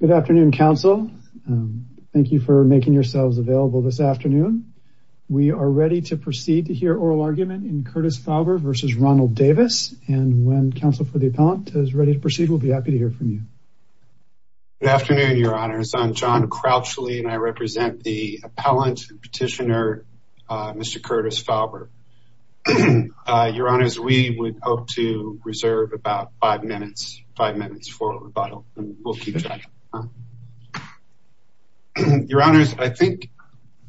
Good afternoon, Council. Thank you for making yourselves available this afternoon. We are ready to proceed to hear oral argument in Curtis Fauber v. Ronald Davis, and when Council for the Appellant is ready to proceed, we'll be happy to hear from you. Good afternoon, Your Honors. I'm John Crapshule, and I represent the Appellant and Petitioner, Mr. Curtis Fauber. Your Honors, we would hope to reserve about five minutes, for rebuttal, and we'll keep that. Your Honors, I think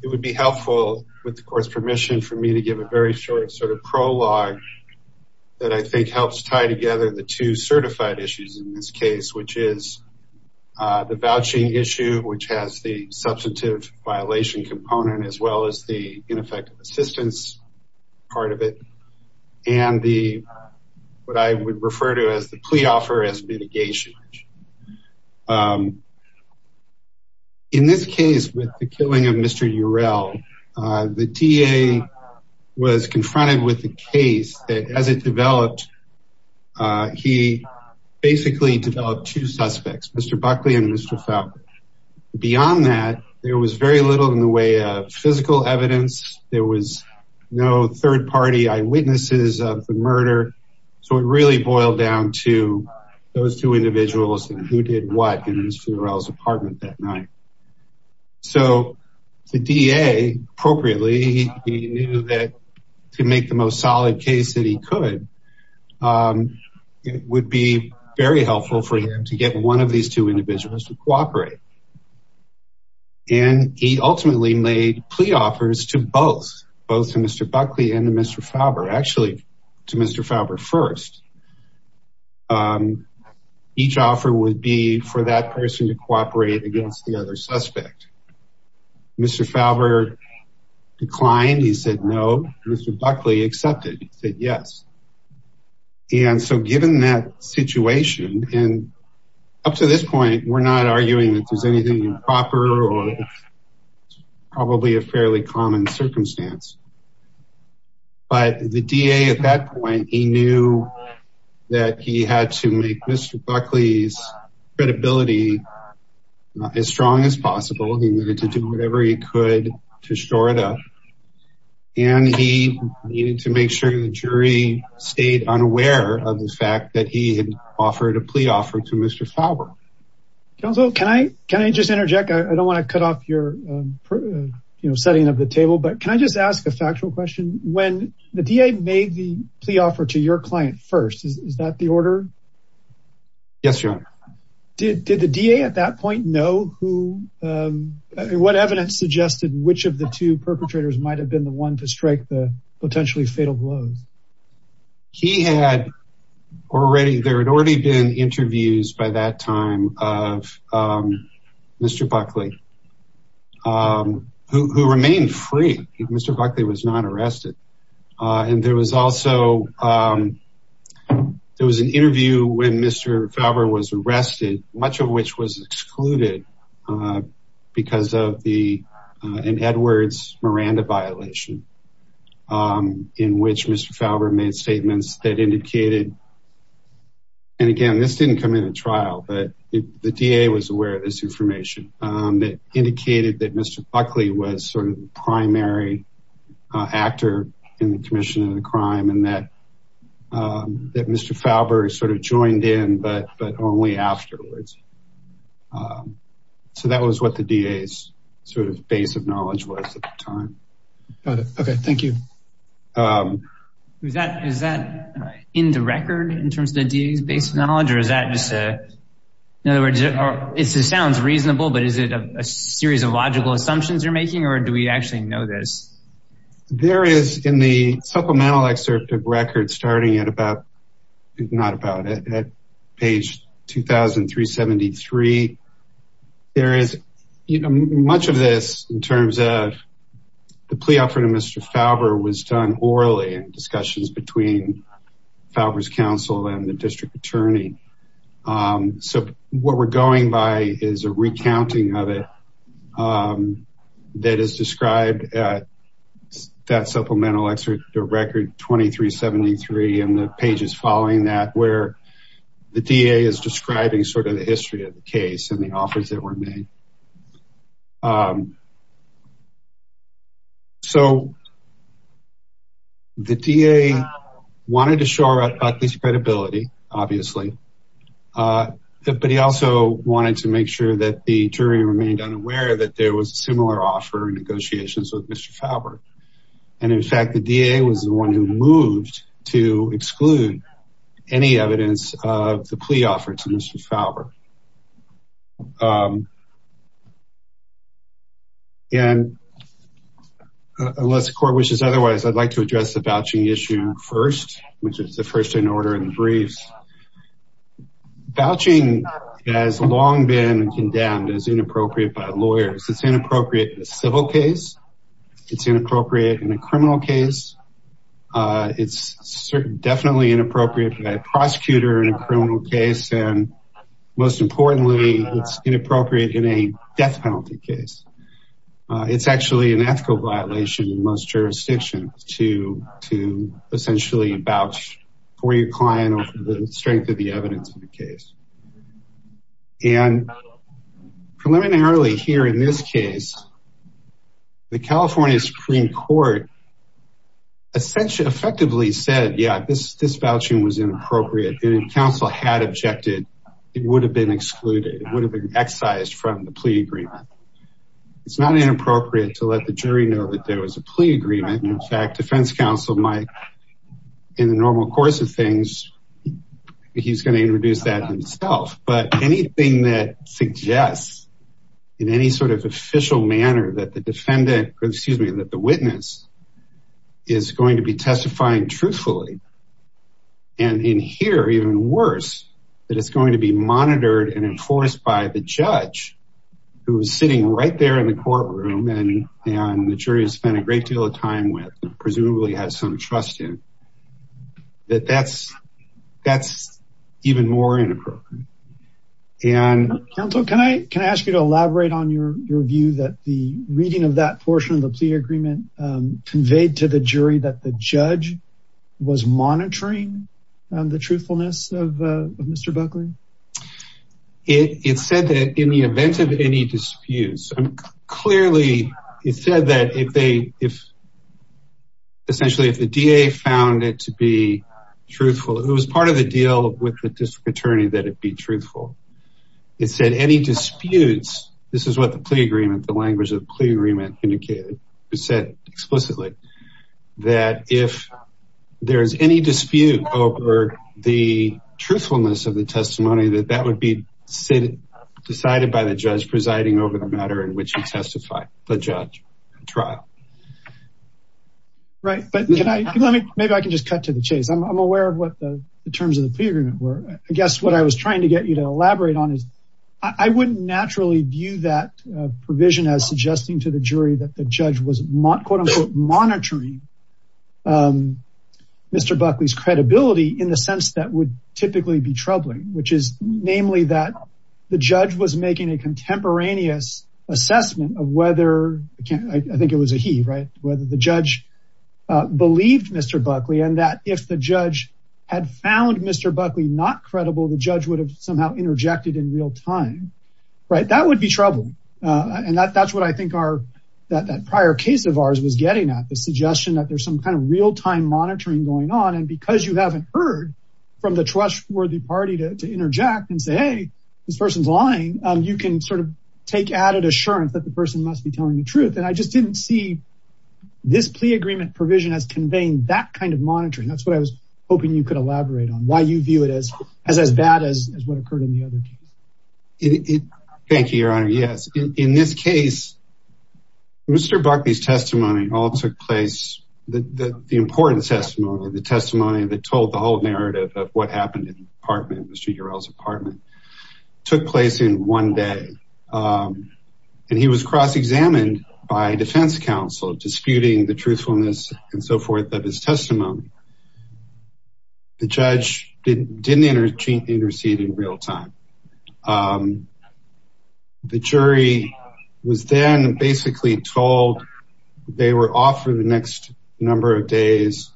it would be helpful, with the Court's permission, for me to give a very short sort of prologue, that I think helps tie together the two certified issues in this case, which is the vouching issue, which has the substantive violation component, as well as the ineffective assistance part of it, and what I would refer to as the plea offer as mitigation. In this case, with the killing of Mr. Urell, the DA was confronted with the case that, as it developed, he basically developed two suspects, Mr. Buckley and Mr. Fauber. Beyond that, there was very little in the way of physical evidence. There was no third-party eyewitnesses of the murder, so it really boiled down to those two individuals and who did what in Mr. Urell's apartment that night. So the DA, appropriately, he knew that to make the most solid case that he could, it would be very helpful for him to get one of these two individuals to cooperate. And he ultimately made plea offers to both, both to Mr. Buckley and to Mr. Fauber. Actually, to Mr. Fauber first. Each offer would be for that person to cooperate against the other suspect. Mr. Fauber declined. He said no. Mr. Buckley accepted. He said yes. And so given that and up to this point, we're not arguing that there's anything improper or probably a fairly common circumstance. But the DA at that point, he knew that he had to make Mr. Buckley's credibility as strong as possible. He needed to do whatever he could to shore it up. And he needed to make sure the jury stayed unaware of the fact that he had offered a plea offer to Mr. Fauber. Counselor, can I just interject? I don't want to cut off your setting of the table, but can I just ask a factual question? When the DA made the plea offer to your client first, is that the order? Yes, Your Honor. Did the DA at that point know who, what evidence suggested which of the two perpetrators might have been the one to strike the potentially fatal blow? He had already, there had already been interviews by that time of Mr. Buckley, who remained free. Mr. Buckley was not arrested. And there was also, um, there was an interview when Mr. Fauber was arrested, much of which was excluded because of the, an Edwards Miranda violation, um, in which Mr. Fauber made statements that indicated, and again, this didn't come in a trial, but the DA was aware of this information, um, that indicated that Mr. Buckley was sort of the primary actor in the commission of the crime. And that, um, that Mr. Fauber sort of joined in, but, but only afterwards. Um, so that was what the DA's sort of base of knowledge was at the time. Okay. Okay. Thank you. Um, is that, is that in the record in terms of the DA's base knowledge, or is that just a, in other words, it sounds reasonable, but is it a series of logical assumptions you're making, or do we actually know this? There is in the supplemental excerpt of record starting at about, not about it, at page 2,373, there is much of this in terms of the plea offer to Mr. Fauber was done orally in discussions between Fauber's counsel and the district attorney. Um, so what we're going by is a recounting of it, um, that is described at that supplemental lecture, the record 2,373 and the pages following that where the DA is describing sort of the history of the case and the offers that were made. Um, so the DA wanted to show at least credibility, obviously, uh, but he also wanted to make sure that the jury remained unaware that there was a similar offer in negotiations with Mr. Fauber. And in fact, the DA was the one who moved to exclude any evidence of the plea offer to Mr. Fauber. Um, and unless court wishes otherwise, I'd like to address the vouching issue first, which is the first in order in brief. Vouching has long been condemned as inappropriate by lawyers. It's inappropriate in a civil case. It's inappropriate in a criminal case. Uh, it's certainly definitely inappropriate for a prosecutor in a criminal case. And most importantly, it's inappropriate in a death to, to essentially vouch for your client or the strength of the evidence in the case. And preliminarily here in this case, the California Supreme Court essentially effectively said, yeah, this, this vouching was inappropriate. And if counsel had objected, it would have been excluded. It would have been excised from the plea agreement. It's not inappropriate to let the jury know that there was a plea agreement. In fact, defense counsel might in normal course of things, he's going to introduce that himself, but anything that suggests in any sort of official manner that the defendant, excuse me, that the witness is going to be testifying truthfully. And in here, even worse, that it's going to be monitored and enforced by the judge who was sitting right there in the courtroom. And, and the jury has spent a great deal of time with presumably has some trust in that that's, that's even more inappropriate. And can I, can I ask you to elaborate on your view that the reading of that portion of the plea agreement conveyed to the jury that the judge was monitoring the truthfulness of Mr. Buckley? It, it said that in the event of any disputes, clearly it said that if they, if essentially if the DA found it to be truthful, it was part of the deal with the district attorney that it be truthful. It said any disputes, this is what the plea agreement, the language of the plea agreement indicated, it said explicitly that if there's any dispute over the truthfulness of the testimony, that that would be decided by the judge presiding over the matter in which you testify, the judge trial. Right. But can I, let me, maybe I can just cut to the chase. I'm aware of what the terms of the agreement were. I guess what I was trying to get you to elaborate on is I wouldn't naturally view that provision as suggesting to the jury that the judge was monitoring Mr. Buckley's credibility in the sense that would typically be troubling, which is namely that the judge was making a contemporaneous assessment of whether, I think it was a he, right? Whether the judge believed Mr. Buckley and that if the judge had found Mr. Buckley not credible, the judge would have somehow interjected in real time, right? That would be trouble. And that's what I think our, that prior case of ours was getting at the suggestion that there's some kind of real time monitoring going on. And because you haven't heard from the trustworthy party to interject and say, Hey, this person's lying. You can sort of take added assurance that the person must be telling the truth. And I just didn't see this plea agreement provision as conveying that kind of monitoring. That's what I was wondering you could elaborate on why you view it as as bad as what occurred in the other case. Thank you, your honor. Yes. In this case, Mr. Buckley's testimony all took place. The important testimony, the testimony that told the whole narrative of what happened in Mr. Urel's apartment took place in one day. And he was cross-examined by defense counsel, disputing the truthfulness and so forth, but his testimony, the judge didn't intercede in real time. The jury was then basically told they were off for the next number of days,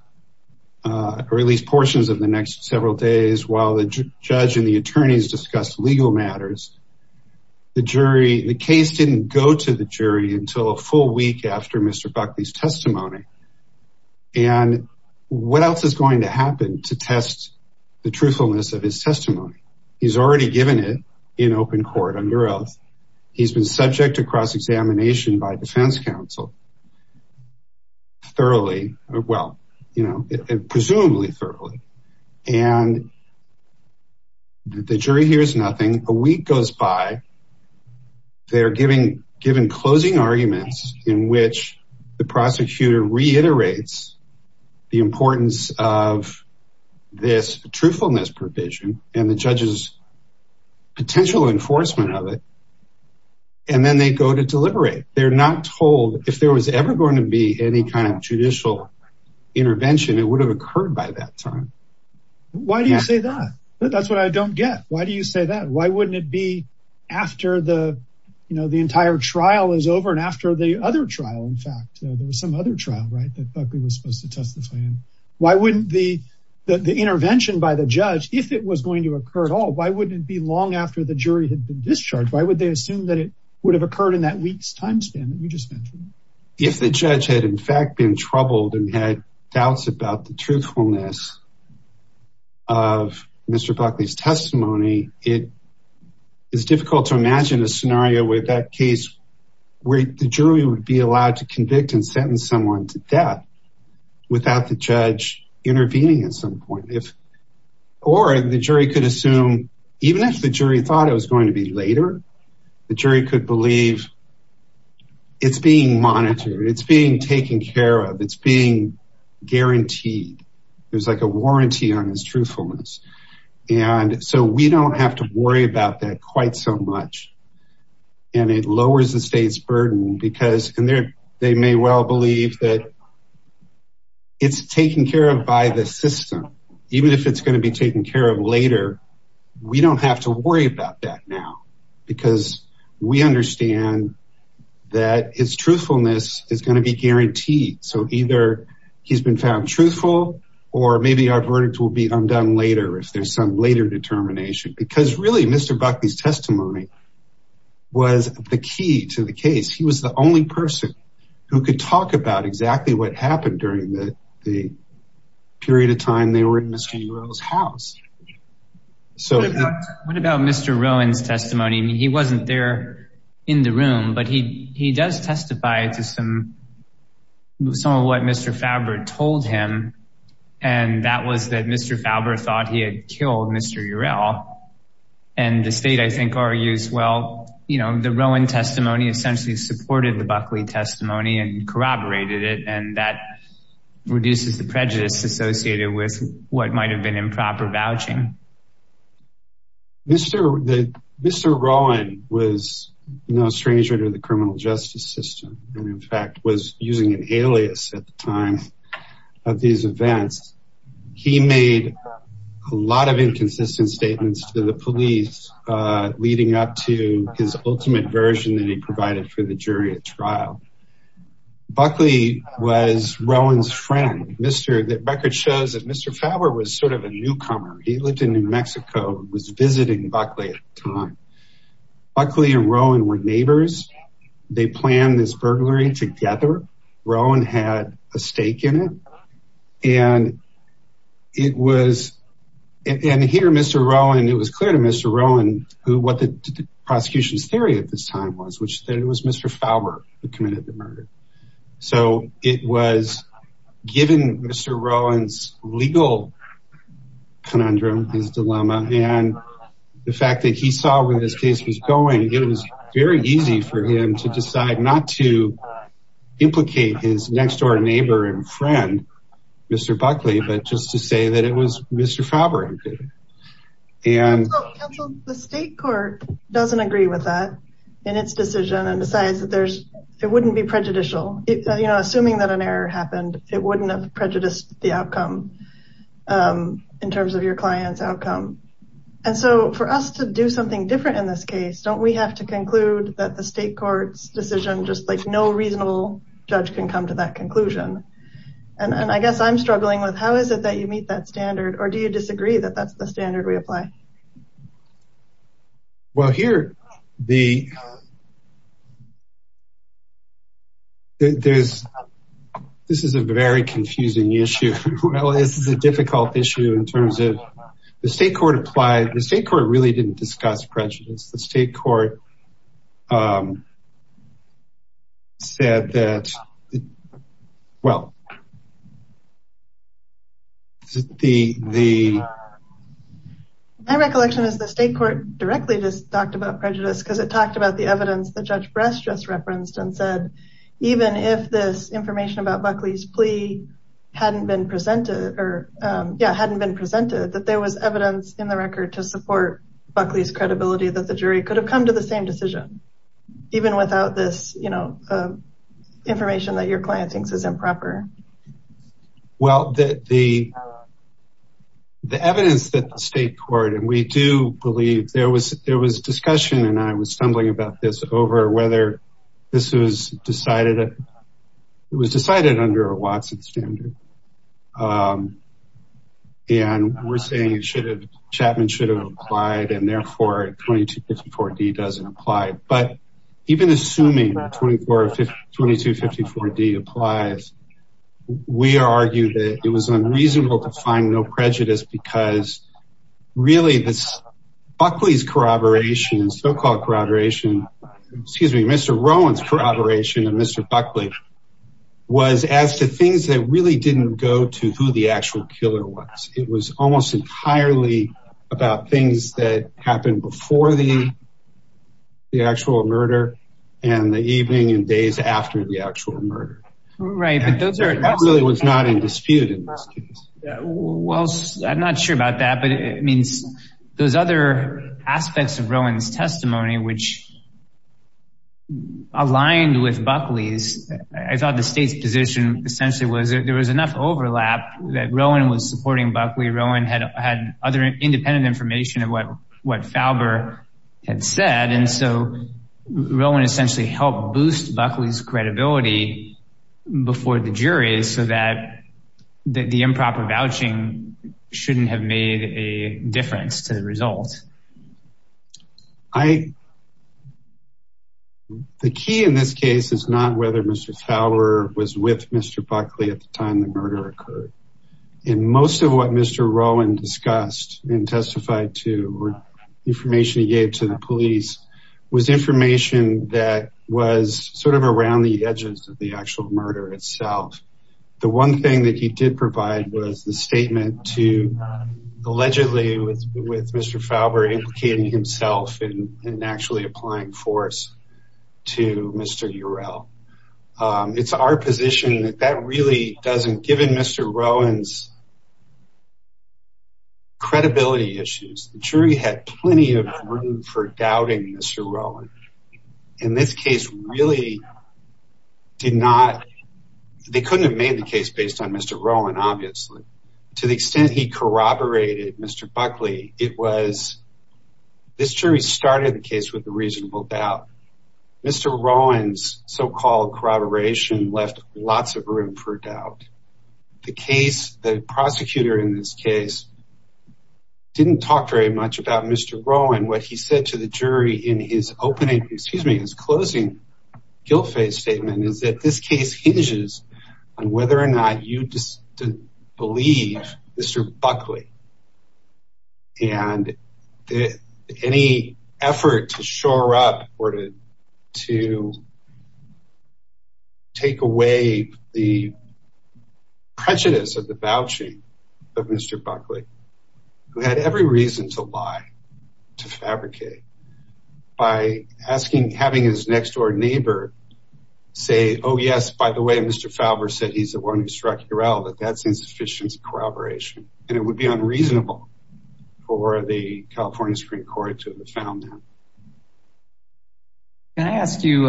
or at least portions of the next several days while the judge and the attorneys discussed legal matters. The jury, the case didn't go to the jury until a full week after Mr. Buckley's testimony. And what else is going to happen to test the truthfulness of his testimony? He's already given it in open court under oath. He's been subject to cross-examination by defense counsel thoroughly, well, you know, presumably thoroughly. And the jury hears nothing. A week goes by. They're given closing arguments in which the prosecutor reiterates the importance of this truthfulness provision and the judge's potential enforcement of it. And then they go to deliberate. They're not told if there was ever going to be any kind of judicial intervention, it would have occurred by that time. Why do you say that? That's what I don't get. Why do you say that? Why wouldn't it be after the, you know, the entire trial is over and after the other trial, in fact, there was some other trial, right? That Buckley was supposed to testify in. Why wouldn't the intervention by the judge, if it was going to occur at all, why wouldn't it be long after the jury had been If the judge had, in fact, been troubled and had doubts about the truthfulness of Mr. Buckley's testimony, it is difficult to imagine a scenario with that case where the jury would be allowed to convict and sentence someone to death without the judge intervening at some point. Or the jury could assume, even if the jury thought it was going to be later, the jury could believe it's being monitored, it's being taken care of, it's being guaranteed. There's like a warranty on this truthfulness. And so we don't have to worry about that quite so much. And it lowers the state's burden because they may well believe that it's taken care of by the system. Even if it's going to be taken care of later, we don't have to worry about that now. Because we understand that his truthfulness is going to be guaranteed. So either he's been found truthful, or maybe our verdict will be undone later if there's some later determination. Because really, Mr. Buckley's testimony was the key to the case. He was the only person who could talk about exactly what happened during the period of time they were in Mr. Urell's house. What about Mr. Rowan's testimony? He wasn't there in the room, but he does testify to some of what Mr. Faber told him. And that was that Mr. Faber thought he had killed Mr. Urell. And the state, I think, argues, well, you know, the Rowan testimony essentially supported the Buckley testimony and corroborated it. And that reduces the prejudice associated with what might have been improper vouching. Mr. Rowan was no stranger to the criminal justice system, and in fact, was using an alias at the time of these events. He made a lot of inconsistent statements to the police, leading up to his record shows that Mr. Faber was sort of a newcomer. He lived in New Mexico, was visiting Buckley at the time. Buckley and Rowan were neighbors. They planned this burglary together. Rowan had a stake in it. And here, Mr. Rowan, it was clear to Mr. Rowan who what the prosecution's theory at this time was, that it was Mr. Faber who committed the murder. So it was given Mr. Rowan's legal conundrum, his dilemma, and the fact that he saw where this case was going, it was very easy for him to decide not to implicate his next door neighbor and friend, Mr. Buckley, but just to say that it was Mr. Faber who did it. The state court doesn't agree with that in its decision and decides that it wouldn't be prejudicial. Assuming that an error happened, it wouldn't have prejudiced the outcome in terms of your client's outcome. And so for us to do something different in this case, don't we have to conclude that the state court's decision, just like no reasonable judge can come to that conclusion? And I guess I'm struggling with how is it that you meet that standard? Or do you disagree that that's the standard we apply? Well, here, this is a very confusing issue. Well, it's a difficult issue in terms of the state court applied. The state really didn't discuss prejudice. The state court said that, well, the- My recollection is the state court directly just talked about prejudice because it talked about the evidence that Judge Brest just referenced and said, even if this information about Buckley's plea hadn't been presented or yeah, hadn't been presented, that there was evidence in record to support Buckley's credibility that the jury could have come to the same decision, even without this information that your client thinks is improper. Well, the evidence that the state court, and we do believe there was discussion, and I was stumbling about this over whether this was decided under a Watson standard. And we're saying Chapman should have applied and therefore 2254-D doesn't apply. But even assuming that 2254-D applies, we argue that it was unreasonable to find no prejudice because really Buckley's corroboration and so-called corroboration, excuse me, Mr. Rowan's corroboration of Mr. Buckley was as to things that really didn't go to who the actual killer was. It was almost entirely about things that happened before the actual murder and the evening and days after the actual murder. Right, but those are- That really was not in dispute. Well, I'm not sure about that, but it means those other aspects of Rowan's testimony, which aligned with Buckley's, I thought the state's position essentially was that there was enough overlap that Rowan was supporting Buckley. Rowan had other independent information of what Falber had said. And so Rowan essentially helped boost Buckley's credibility before the jury so that the improper vouching shouldn't have made a difference to the result. The key in this case is not whether Mr. Falber was with Mr. Buckley at the time the murder occurred. In most of what Mr. Rowan discussed and testified to information he gave to the police was information that was sort of around the edges of the actual murder itself. The one thing that he did provide was a statement to allegedly with Mr. Falber indicating himself and actually applying force to Mr. Urel. It's our position that that really doesn't, given Mr. Rowan's credibility issues, the jury had plenty of room for doubting Mr. Rowan. In this case really did not, they couldn't have made the case based on Mr. Rowan obviously. To the extent he corroborated Mr. Buckley, it was, this jury started the case with a reasonable doubt. Mr. Rowan's so-called corroboration left lots of room for doubt. The case, the prosecutor in this closing guilt-faced statement is that this case hinges on whether or not you believe Mr. Buckley and any effort to shore up or to take away the prejudice of the vouching of Mr. Buckley, who had every reason to lie, to fabricate, by asking, having his next door neighbor say, oh yes, by the way, Mr. Falber said he's the one who struck Urel, that that's insufficient corroboration and it would be unreasonable for the California Supreme Court to have found that. Can I ask you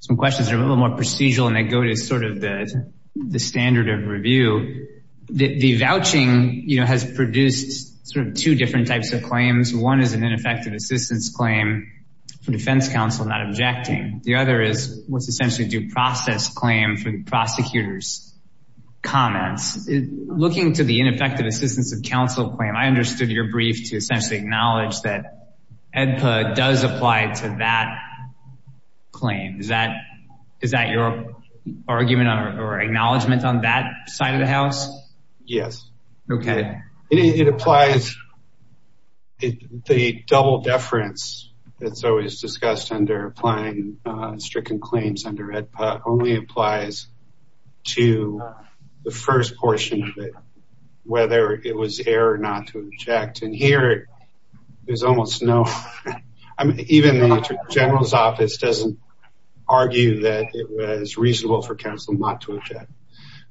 some questions that are a little more procedural and that go to the standard of review. The vouching has produced two different types of claims. One is an ineffective assistance claim from defense counsel not objecting. The other is what's essentially due process claim from the prosecutor's comments. Looking for the ineffective assistance of counsel claim, I understood your brief to essentially acknowledge that EDPA does apply to that claim. Is that your argument or acknowledgement on that side of the house? Yes. Okay. It applies, the double deference that's always discussed under applying stricken claims under EDPA only applies to the first portion of it, whether it was air or not to object. And here, there's almost no, even the general's office doesn't argue that it was reasonable for counsel not to object.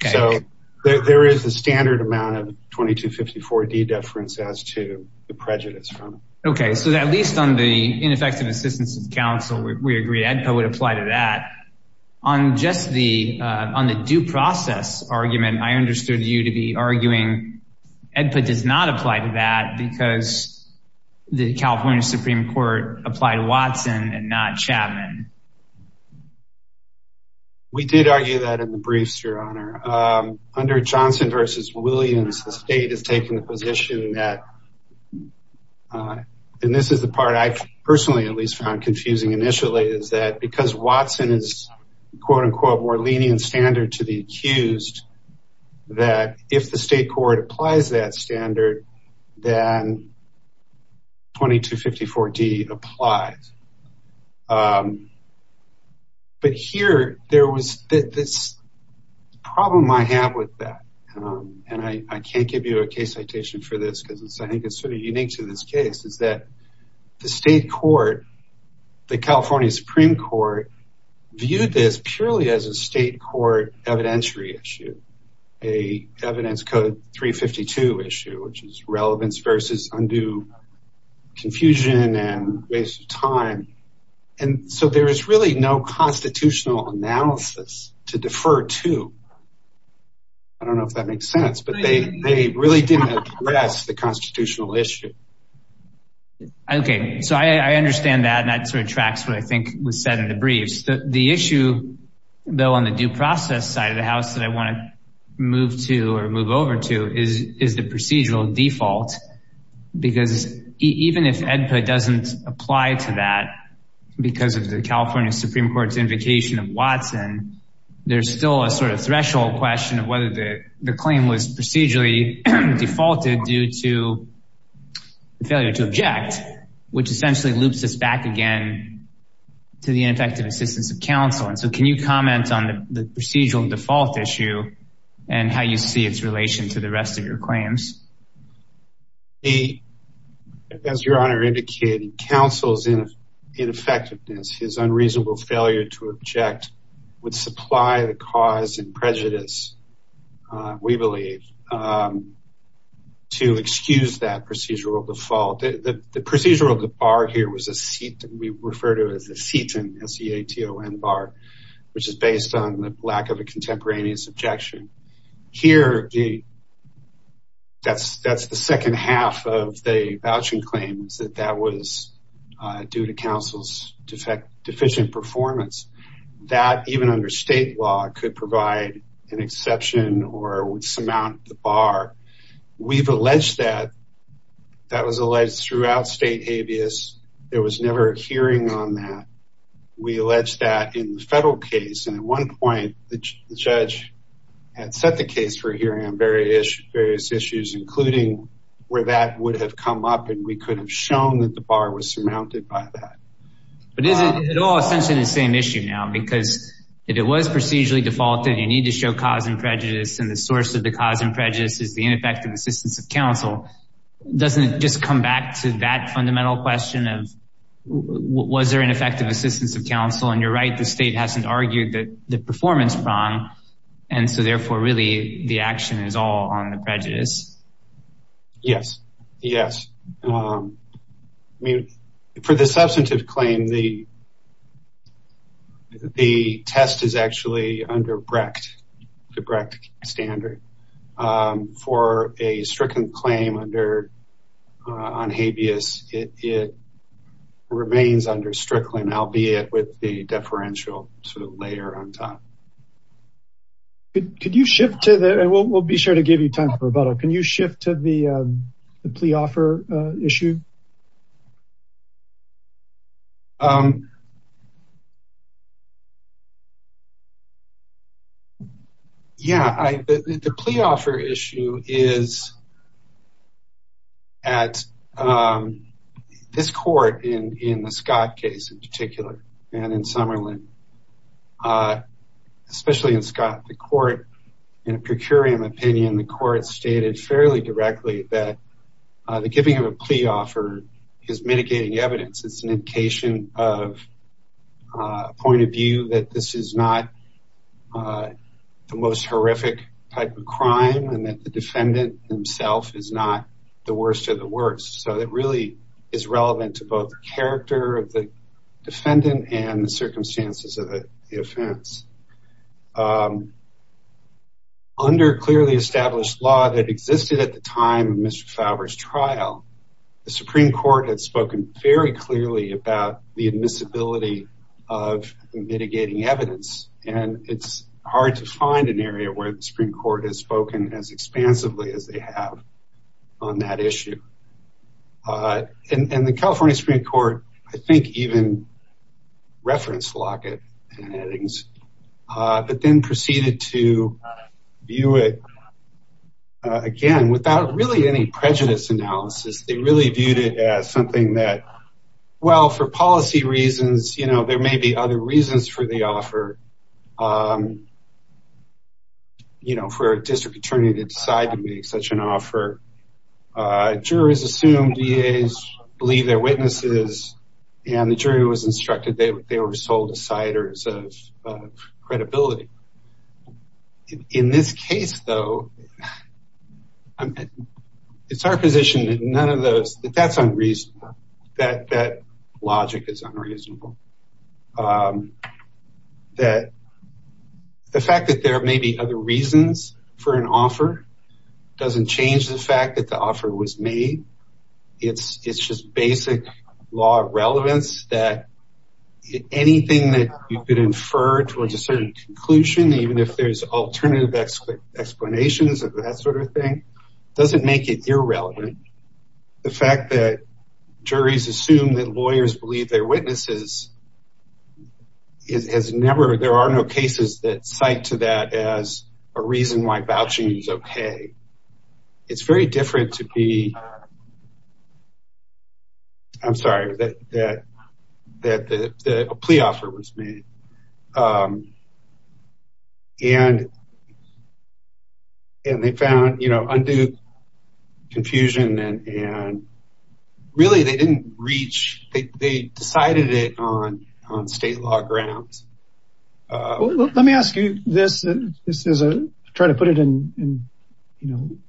So there is a standard amount of 2254 deference as to the prejudice. Okay. So at least on the ineffective assistance of counsel, we agree EDPA would apply to that. On just the, on the due process argument, I understood you to be arguing EDPA does not apply to that because the California Supreme Court applied Watson and not Chapman. We did argue that in the briefs, your honor. Under Johnson versus Williams, the state has taken the position that, and this is the part I personally at least found confusing initially, is that because Watson is quote unquote more lenient standard to the accused, that if the state court applies that standard, then 2254 D applies. But here there was this problem I have with that. And I can't give you a case citation for this because I think it's sort of unique to this case is that the state court, the California Supreme Court viewed this purely as a state court evidentiary issue, a evidence code 352 issue, which is relevance versus undue confusion and waste of time. And so there is really no constitutional analysis to defer to. I don't know if that makes sense, but they really didn't address the constitutional issue. Okay. So I understand that and that sort of tracks what I think was said in the briefs. The issue though, on the due process side of the house that I want to move to or move over to is the procedural default, because even if EDPA doesn't apply to that because of the California Supreme Court's invocation of Watson, there's still a sort of threshold question of whether the claim was procedurally defaulted due to the failure to object, which essentially loops us back again to the ineffective assistance of counsel. And so can you comment on the procedural default issue and how you see its relation to the rest of your claims? As your honor indicated, counsel's ineffectiveness, his unreasonable failure to object would supply the cause and prejudice, we believe, to excuse that procedural default. The procedural bar here, we refer to it as the FETON, which is based on the lack of a contemporaneous objection. Here, that's the second half of the voucher claims that that was due to counsel's deficient performance. That, even under state law, could provide an exception or would surmount the bar. We've alleged that. That was alleged throughout state habeas. There was never a hearing on that. We alleged that in the federal case. And at one point, the judge had set the case for hearing on various issues, including where that would have come up and we could have shown that the bar was surmounted by that. But it all essentially the same issue now, because if it was procedurally defaulted, you need to show cause and prejudice, and the source of the cause and prejudice is the ineffective assistance of counsel. Doesn't it just come back to that fundamental question of was there an effective assistance of counsel? And you're right, the state hasn't argued that the performance is wrong, and so therefore, really, the action is all on the prejudice. Yes. Yes. For the substantive claim, the test is actually under the Brecht standard. For a strickland claim on habeas, it remains under strickland, albeit with the deferential layer on top. We'll be sure to give you time for a follow-up. Can you shift to the plea offer issue? Yeah. The plea offer issue is at this court in the Scott case in particular, and in Summerlin. Especially in Scott, the court, in a per curiam opinion, the court stated fairly directly that the giving of a plea offer is mitigating evidence. It's an indication of a point of view that this is not the most horrific type of crime, and that the defendant himself is not the worst of the worst. So it really is relevant to both the character of the defendant and the circumstances of the offense. Under clearly established law that existed at the time of Mr. Fowler's trial, the Supreme Court had spoken very clearly about the admissibility of mitigating evidence, and it's hard to find an area where the Supreme Court has spoken as expansively as they have on that issue. And the California Supreme Court, I think even referenced Lockett and Eddings, but then proceeded to view it again without really any prejudice analysis. They really viewed it as something that, well, for policy reasons, there may be other reasons for the offer, for a district attorney to decide to make such an offer. A jury has assumed DAs believe they're witnesses, and the jury was instructed they were sole deciders of credibility. In this case, though, it's our position that none of those, that's unreasonable. That logic is unreasonable. The fact that there may be other reasons for an offer doesn't change the fact that the offer was made. It's just basic law relevance that anything that you could infer towards a certain conclusion, even if there's alternative explanations of that sort of thing, doesn't make it irrelevant. The fact that juries assume that lawyers believe they're pay, it's very different to be... I'm sorry, that a plea offer was made. And they found undue confusion, and really they didn't reach, they decided it on state law grounds. Let me ask you this, and try to put it in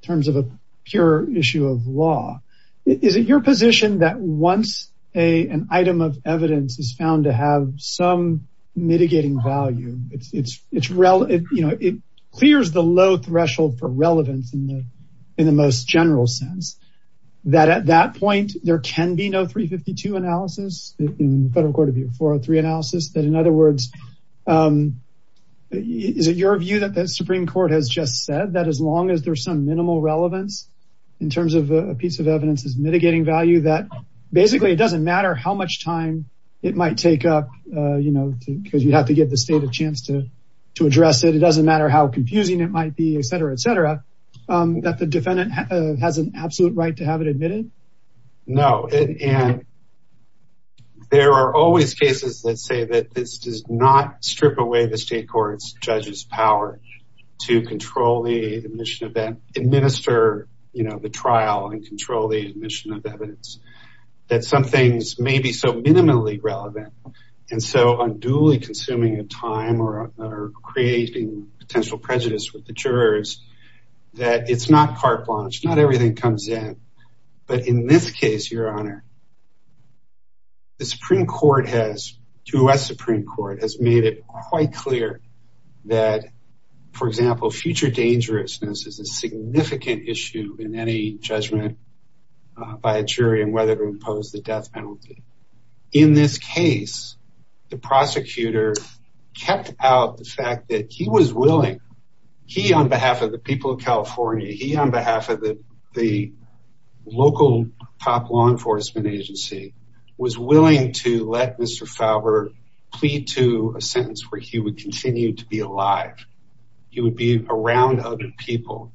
terms of a pure issue of law. Is it your position that once an item of evidence is found to have some mitigating value, it clears the low threshold for relevance in the most general sense, that at that point, there can be no 352 analysis, in federal court, it'd be a 403 analysis, that in other words, is it your view that the Supreme Court has just said that as long as there's some minimal relevance in terms of a piece of evidence is mitigating value, that basically it doesn't matter how much time it might take up, because you have to give the state a chance to address it. It doesn't matter how confusing it might be, et cetera, et cetera, that the defendant has an absolute right to have evidence. No, and there are always cases, let's say, that this does not strip away the state court's judge's power to control the admission of that, administer the trial and control the admission of evidence, that some things may be so minimally relevant, and so unduly consuming of time or creating potential prejudice with the jurors, that it's not carte blanche, not everything comes in, but in this case, Your Honor, the Supreme Court has, U.S. Supreme Court, has made it quite clear that, for example, future dangerousness is a significant issue in any judgment by a jury in whether to impose the death penalty. In this case, the prosecutor kept out the fact that he was willing, he on behalf of the people of California, he on behalf of the local top law enforcement agency, was willing to let Mr. Fowler plead to a sentence where he would continue to be alive. He would be around other people.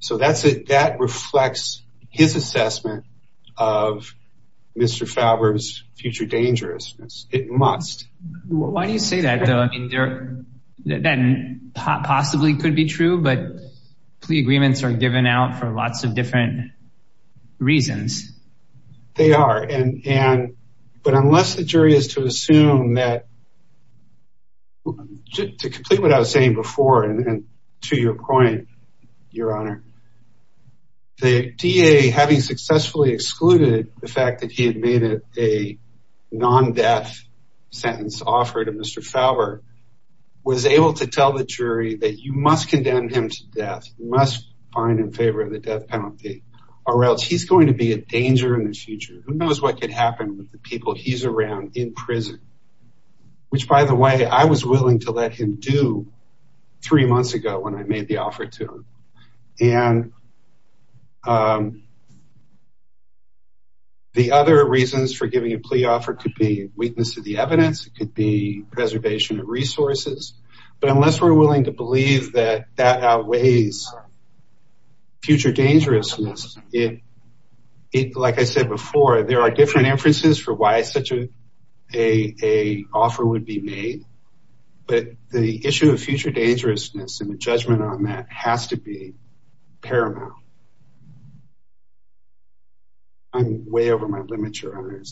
So that's it. That reflects his assessment of Mr. Fowler's future dangerousness. It must. Why do you say that, though? That possibly could be true, but plea agreements are given out for lots of different reasons. They are, and, but unless the jury is to assume that, to complete what I was saying before, and to your point, Your Honor, the DA having successfully excluded the fact that he had made a non-death sentence offer to Mr. Fowler, was able to tell the jury that you must condemn him to death, you must find him in favor of the death penalty, or else he's going to be a danger in the future. Who knows what could happen with the people he's around in prison, which, by the way, I was willing to let him do three months ago when I made the offer to him. And the other reasons for giving a plea offer could be weakness of the evidence. It could be preservation of resources. But unless we're willing to believe that that outweighs future dangerousness, like I said before, there are different inferences for why such a offer would be made. But the issue of future dangerousness and the judgment on that has to be paramount. I'm way over my limit, Your Honor.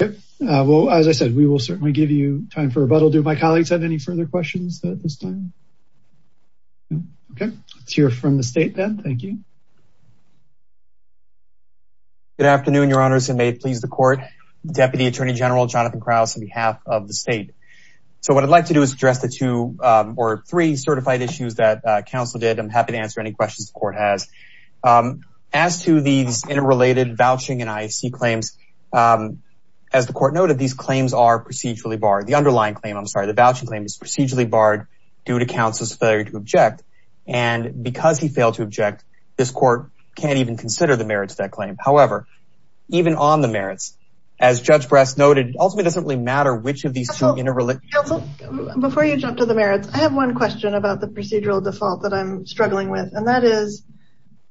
Okay. Well, as I said, we will certainly give you time for rebuttal. Do my colleagues have any further questions at this time? Okay. I'll hear from the state then. Thank you. Good afternoon, Your Honors, and may it please the court. Deputy Attorney General Jonathan Krauss on behalf of the state. So what I'd like to do is address the two or three certified issues that counsel did. I'm happy to answer any questions the court has. As to the interrelated vouching and IAC claims, as the court noted, these claims are procedurally barred. The underlying claim, I'm sorry, the voucher claim is procedurally barred due to counsel's failure to object. And because he failed to consider the merits of that claim. However, even on the merits, as Judge Bress noted, it ultimately doesn't really matter which of these two interrelate. Before you jump to the merits, I have one question about the procedural default that I'm struggling with. And that is,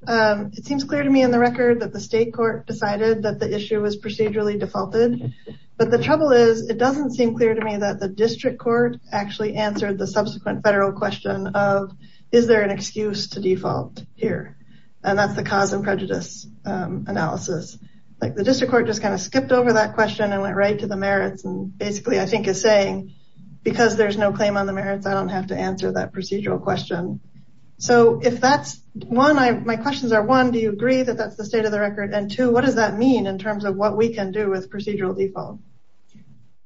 it seems clear to me in the record that the state court decided that the issue was procedurally defaulted. But the trouble is, it doesn't seem clear to me that the district court actually answered the subsequent federal question of, is there an prejudice analysis? Like the district court just kind of skipped over that question and went right to the merits. And basically I think it's saying, because there's no claim on the merits, I don't have to answer that procedural question. So if that's one, my questions are, one, do you agree that that's the state of the record? And two, what does that mean in terms of what we can do with procedural default?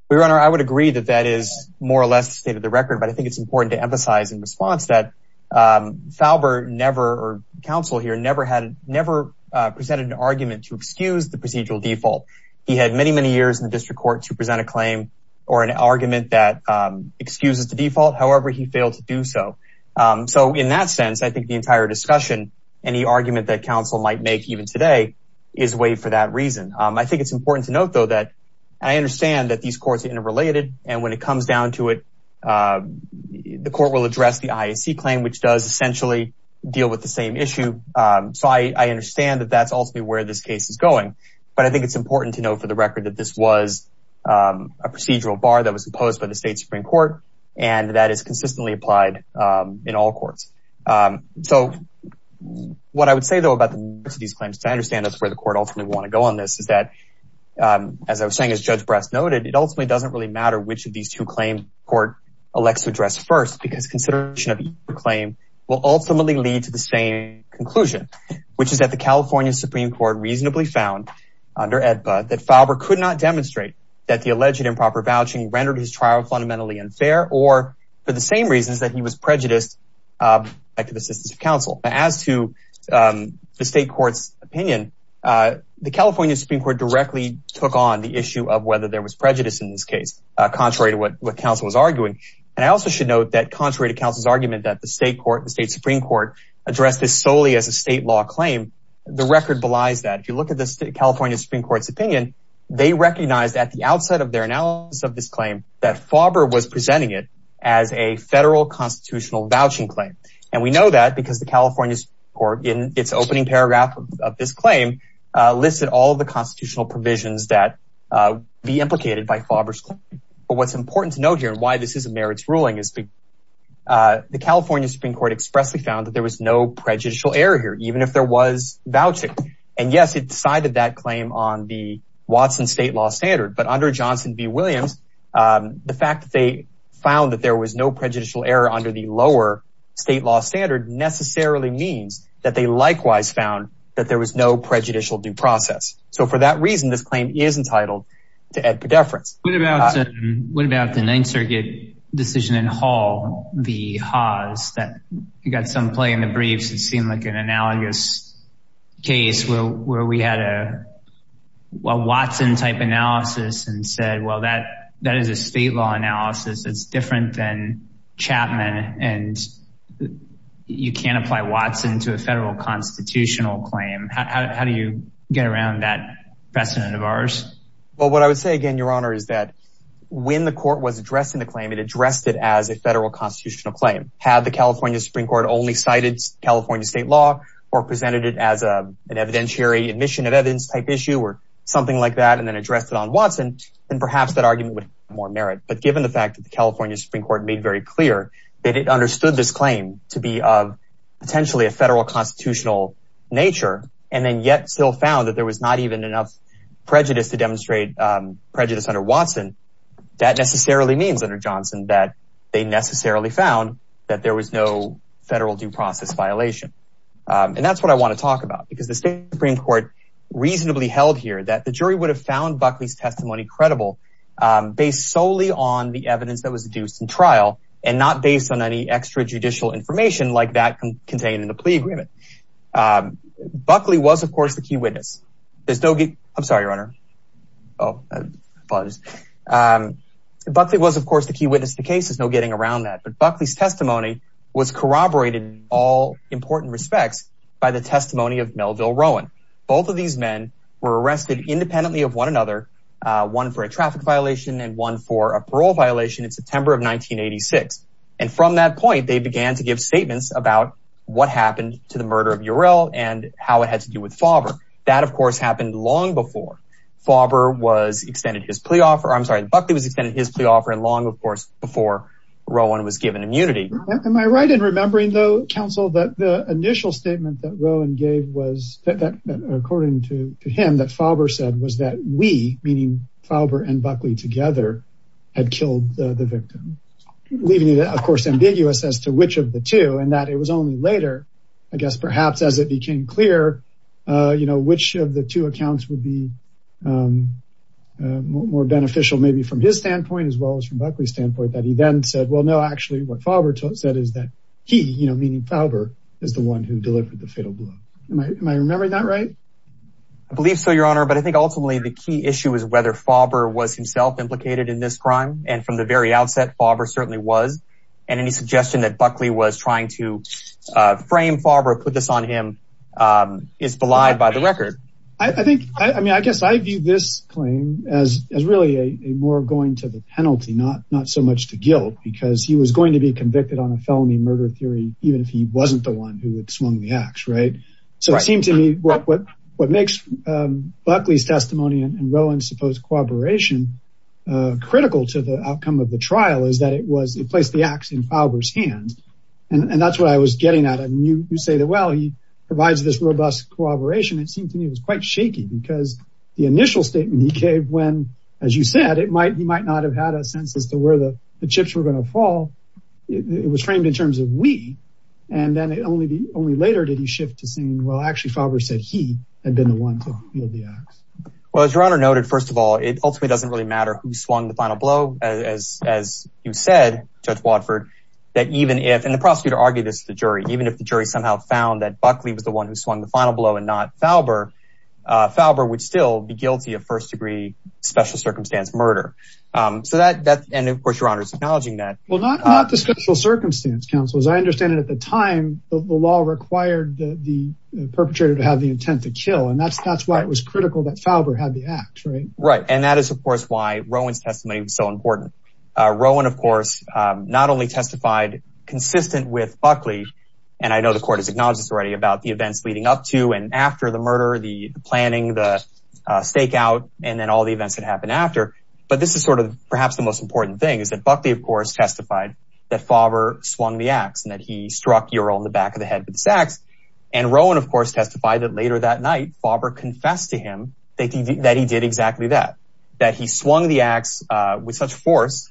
Your Honor, I would agree that that is more or less state of the record, but I think it's important to emphasize in response that Falber never, or counsel here, never presented an argument to excuse the procedural default. He had many, many years in the district court to present a claim or an argument that excuses the default. However, he failed to do so. So in that sense, I think the entire discussion and the argument that counsel might make even today is way for that reason. I think it's important to note though, that I understand that these courts are interrelated and when it comes down to it, the court will address the IAC claim, which does essentially deal with the same issue. So I understand that that's ultimately where this case is going, but I think it's important to note for the record that this was a procedural bar that was imposed by the state Supreme Court, and that is consistently applied in all courts. So what I would say though, about the merits of these claims, to understand that's where the court ultimately want to go on this, is that, as I was saying, it ultimately doesn't really matter which of these two claims the court elects to address first, because consideration of each claim will ultimately lead to the same conclusion, which is that the California Supreme Court reasonably found under AEDPA, that Falber could not demonstrate that the alleged improper vouching rendered his trial fundamentally unfair, or for the same reasons that he was prejudiced by the assistance of counsel. As to the state opinion, the California Supreme Court directly took on the issue of whether there was prejudice in this case, contrary to what counsel was arguing. And I also should note that contrary to counsel's argument that the state Supreme Court addressed this solely as a state law claim, the record belies that. If you look at the California Supreme Court's opinion, they recognized at the outset of their analysis of this claim, that Falber was presenting it as a federal constitutional vouching claim. And we know that because the California Supreme Court, in its opening paragraph of this claim, listed all of the constitutional provisions that be implicated by Falber's claim. But what's important to note here, and why this is a merits ruling, is the California Supreme Court expressly found that there was no prejudicial error here, even if there was vouching. And yes, it decided that claim on the Watson state law standard, but under Johnson v. Williams, the fact that they found that there was no prejudicial error under the lower state law standard necessarily means that they likewise found that there was no prejudicial due process. So for that reason, this claim is entitled to Ed Pedefra. What about the Ninth Circuit decision in Hall v. Haas, that you got some play in the briefs, it seemed like an analogous case where we had a Watson type analysis and said, that is a state law analysis, it's different than Chapman, and you can't apply Watson to a federal constitutional claim. How do you get around that precedent of ours? Well, what I would say, again, Your Honor, is that when the court was addressing the claim, it addressed it as a federal constitutional claim. Had the California Supreme Court only cited California state law, or presented it as an evidentiary admission of evidence type issue, something like that, and then addressed it on Watson, then perhaps that argument would have more merit. But given the fact that the California Supreme Court made it very clear that it understood this claim to be of potentially a federal constitutional nature, and then yet still found that there was not even enough prejudice to demonstrate prejudice under Watson, that necessarily means under Johnson that they necessarily found that there was no federal due process violation. And that's what I want to talk about, because the Supreme Court reasonably held here that the jury would have found Buckley's testimony credible based solely on the evidence that was deduced in trial, and not based on any extra judicial information like that contained in the plea agreement. Buckley was, of course, the key witness. I'm sorry, Your Honor. Buckley was, of course, the key witness to cases, no getting around that. But Buckley's testimony was corroborated in all important respects by the testimony of Melville Rowan. Both of these men were arrested independently of one another, one for a traffic violation and one for a parole violation in September of 1986. And from that point, they began to give statements about what happened to the murder of Uriel and how it has to do with Fauber. That, of course, happened long before Fauber was extended his plea offer. I'm sorry, Buckley was extended his plea offer long, of course, before Rowan was given immunity. Am I right in remembering, though, counsel, that the initial statement that Rowan gave was according to him that Fauber said was that we, meaning Fauber and Buckley together, had killed the victim, leaving it, of course, ambiguous as to which of the two, and that it was only later, I guess, perhaps as it became clear, you know, which of the two accounts would be more beneficial, maybe from his standpoint, as well as from Buckley's standpoint, that he then said, well, no, actually, what Fauber said is that he, you know, meaning Fauber, is the one who delivered the fatal blow. Am I remembering that right? I believe so, your honor. But I think ultimately the key issue is whether Fauber was himself implicated in this crime. And from the very outset, Fauber certainly was. And any suggestion that Buckley was trying to frame Fauber, put this on him, is belied by the record. I think, I mean, I guess I view this claim as really a more going to the penalty, not so much the guilt, because he was going to be convicted on a felony murder theory, even if he wasn't the one who had swung the axe, right? So it seems to me what makes Buckley's testimony and Rowland's supposed cooperation critical to the outcome of the trial is that it was, he placed the axe in Fauber's hand. And that's what I was getting at. And you say that, well, he provides this robust cooperation. It seems to me it was quite shaky because the initial statement he gave when, as you said, he might not have had a sense as to where the chips were going to fall. It was framed in terms of we, and then it only later did he shift to saying, well, actually Fauber said he had been the one who held the axe. Well, as your honor noted, first of all, it ultimately doesn't really matter who swung the final blow, as you said, Judge Wadford, that even if, and the prosecutor argued this to the jury, even if the jury somehow found that Buckley was the one who swung the final murder. So that, and of course your honor is acknowledging that. Well, not the social circumstance counsels. I understand that at the time the law required the perpetrator to have the intent to kill. And that's, that's why it was critical that Fauber had the axe, right? Right. And that is of course, why Rowland's testimony is so important. Rowland of course, not only testified consistent with Buckley and I know the court has acknowledged this already about the events leading up to and after the planning, the stakeout, and then all the events that happened after. But this is sort of perhaps the most important thing is that Buckley, of course, testified that Fauber swung the axe and that he struck Uriel in the back of the head with his axe. And Rowland of course, testified that later that night, Fauber confessed to him that he did exactly that, that he swung the axe with such force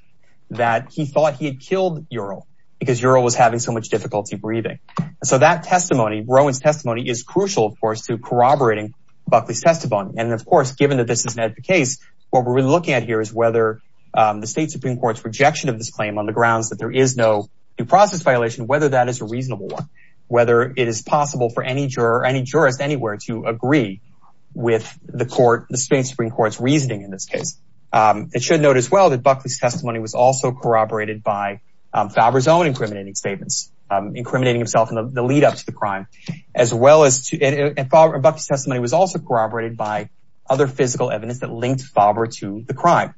that he thought he had killed Uriel because Uriel was having so much difficulty breathing. So that testimony, Rowland's testimony is crucial, of course, to corroborating Buckley's testimony. And of course, given that this is not the case, what we're really looking at here is whether the state Supreme Court's rejection of this claim on the grounds that there is no due process violation, whether that is a reasonable one, whether it is possible for any juror, any juror at anywhere to agree with the court, the state Supreme Court's reasoning in this case. It should note as well that Buckley's testimony was also corroborated by Fauber's own incriminating statements, incriminating himself in the lead up to the crime. And Fauber, Buckley's testimony was also corroborated by other physical evidence that linked Fauber to the crime.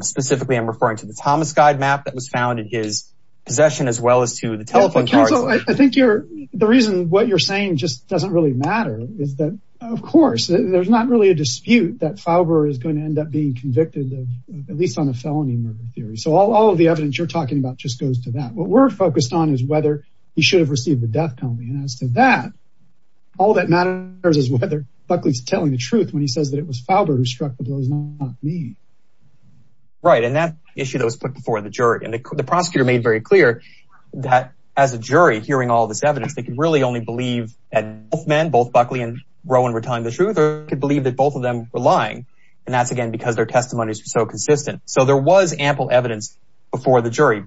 Specifically, I'm referring to the Thomas guide map that was found in his possession as well as to the telephone charger. I think the reason what you're saying just doesn't really matter is that of course, there's not really a dispute that Fauber is going to end up being convicted of at least on a felony murder theory. So all of the evidence you're talking about just goes to that. What we're focused on is whether he should have received the death penalty. And as to that, all that matters is whether Buckley's telling the truth when he says that it was Fauber who struck the blows, not me. Right. And that's the issue that was put before the jury. And the prosecutor made very clear that as a jury, hearing all this evidence, they can really only believe that both men, both Buckley and Rowan were telling the truth, or could believe that both of them were lying. And that's again, because their testimonies are so consistent. So there was ample evidence before the jury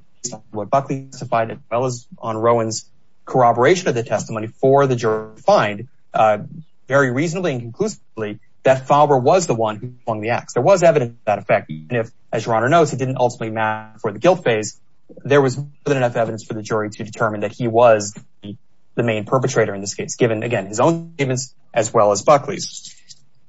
where Buckley testified as well on Rowan's corroboration of the testimony for the jury find very reasonably and conclusively that Fauber was the one who won the act. There was evidence to that effect. As your honor knows, he didn't ultimately match for the guilt phase. There was enough evidence for the jury to determine that he was the main perpetrator in this case, given again, his own as well as Buckley's.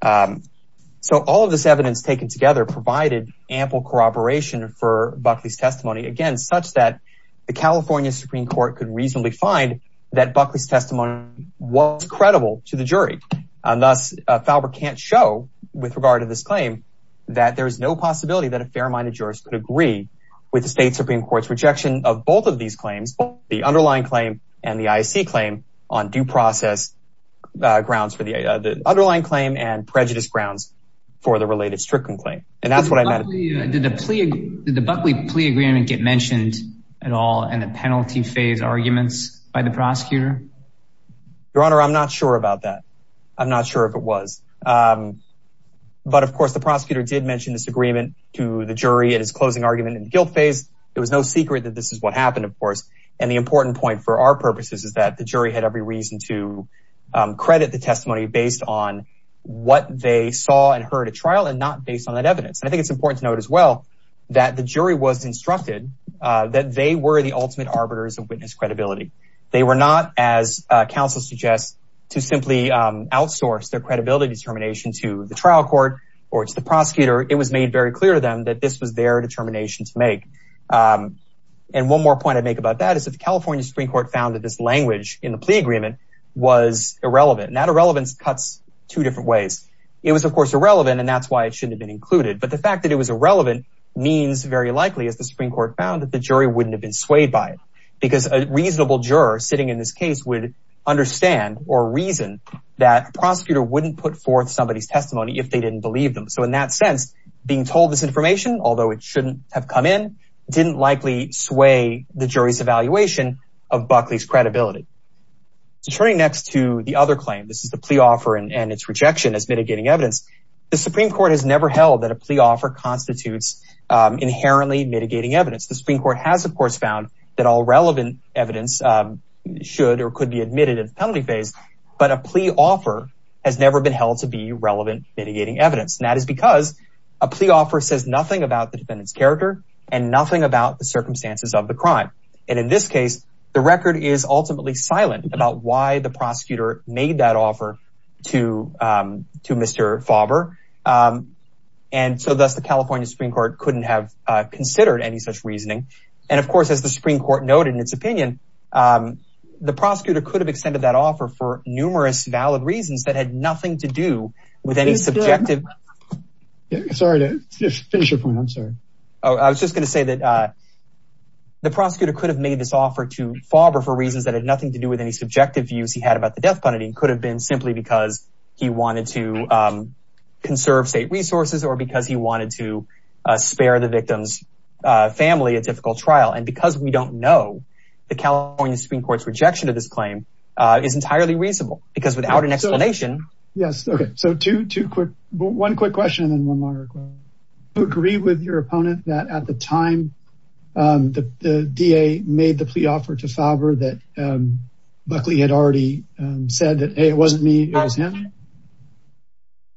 So all of this evidence taken together provided ample corroboration for Buckley's testimony, again, such that the California Supreme Court could reasonably find that Buckley's testimony was credible to the jury. And that's, Fauber can't show with regard to this claim that there is no possibility that a fair minded jurist would agree with the state Supreme Court's rejection of both of these claims, the underlying claim and the ISC claim on due process grounds for the underlying claim and prejudice grounds for the related stricken claim. And that's what I meant. Did the Buckley plea agreement get mentioned at all in the penalty phase arguments by the prosecutor? Your honor, I'm not sure about that. I'm not sure if it was, but of course the prosecutor did mention this agreement to the jury at his closing argument and guilt phase. It was no secret that this is what happened, of course. And the important point for our purposes is that the jury had every reason to credit the testimony based on what they saw and not based on that evidence. And I think it's important to note as well that the jury was instructed that they were the ultimate arbiters of witness credibility. They were not as counsel suggests to simply outsource their credibility determination to the trial court or to the prosecutor. It was made very clear to them that this was their determination to make. And one more point I'd make about that is that the California Supreme Court found that this language in the plea agreement was irrelevant. And that irrelevance cuts two different ways. It was of and that's why it shouldn't have been included. But the fact that it was irrelevant means very likely as the Supreme Court found that the jury wouldn't have been swayed by it because a reasonable juror sitting in this case would understand or reason that prosecutor wouldn't put forth somebody's testimony if they didn't believe them. So in that sense, being told this information, although it shouldn't have come in, didn't likely sway the jury's evaluation of Buckley's credibility. Turning next to the other claim, this is the plea and its rejection as mitigating evidence. The Supreme Court has never held that a plea offer constitutes inherently mitigating evidence. The Supreme Court has of course found that all relevant evidence should or could be admitted as penalty phase, but a plea offer has never been held to be relevant mitigating evidence. And that is because a plea offer says nothing about the defendant's character and nothing about the circumstances of the crime. And in this case, the record is ultimately silent about why the prosecutor made that offer to Mr. Favre. And so that's the California Supreme Court couldn't have considered any such reasoning. And of course, as the Supreme Court noted in its opinion, the prosecutor could have extended that offer for numerous valid reasons that had nothing to do with any subjective... Sorry to just finish it from one side. I was just going to say that the prosecutor could have made this offer to Favre for reasons that had nothing to do with any subjective views he had about the death penalty and could have been simply because he wanted to conserve state resources or because he wanted to spare the victim's family a difficult trial. And because we don't know, the California Supreme Court's rejection of this claim is entirely reasonable because without an explanation... Yes. Okay. So one quick question and then one longer question. Do you agree with your opponent that at the time the DA made the plea offer to Favre that Buckley had already said that, hey, it wasn't me, it was him?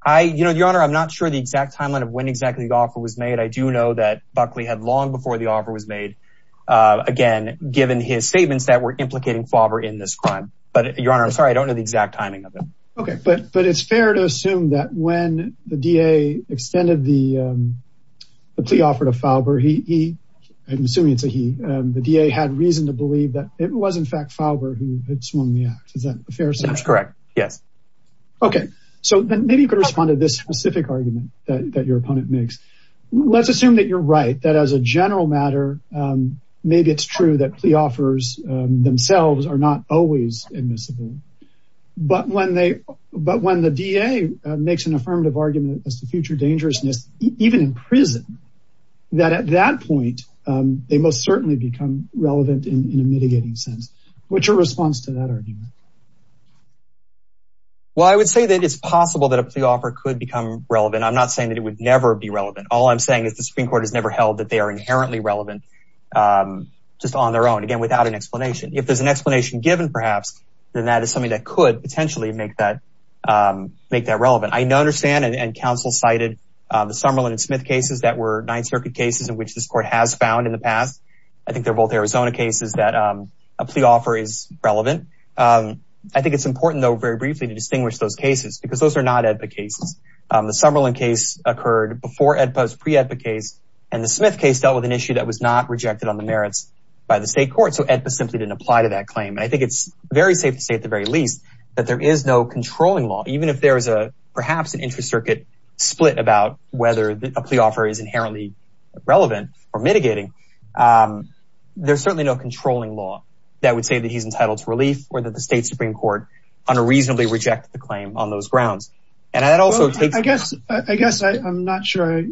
Your Honor, I'm not sure the exact timeline of when exactly the offer was made. I do know that Buckley had long before the offer was made, again, given his statements that were implicating Favre in this crime. But Your Honor, I'm sorry, I don't know the exact timing of it. Okay. But it's fair to assume that when the DA extended the plea offer to Favre, he, I'm assuming it's a he, the DA had reason to believe that it was, in fact, Favre who had swung the ax. Is that a fair assumption? That's correct. Yeah. Okay. So then maybe you could respond to this specific argument that your opponent makes. Let's assume that you're right, that as a general matter, maybe it's true that plea offers themselves are not always admissible. But when the DA makes an affirmative argument as to future dangerousness, even in prison, that at that point, they most certainly become relevant in a mitigating sense. What's your response to that argument? Well, I would say that it's possible that a plea offer could become relevant. I'm not saying that it would never be relevant. All I'm saying is the Supreme Court has never held that they are inherently relevant just on their own, again, without an explanation. If there's an explanation given, perhaps, then that is something that could potentially make that relevant. I understand, and counsel cited the Summerlin and Smith cases that were Ninth Circuit cases in which this court has found in the past. I think they're both Arizona cases that a plea offer is relevant. I think it's important, though, very briefly to distinguish those cases, because those are not AEDPA cases. The Summerlin case occurred before AEDPA's pre-AEDPA case, and the Smith case dealt with an issue that was not rejected on the merits by the state court. So AEDPA simply didn't apply to that claim. And I think it's very safe to say, at the very least, that there is no controlling law. Even if there's perhaps an inter-circuit split about whether a plea offer is inherently relevant or mitigating, there's certainly no controlling law that would say that he's entitled to relief or that the state Supreme Court unreasonably rejects the claim on those grounds. And I'd also say- I guess I'm not sure I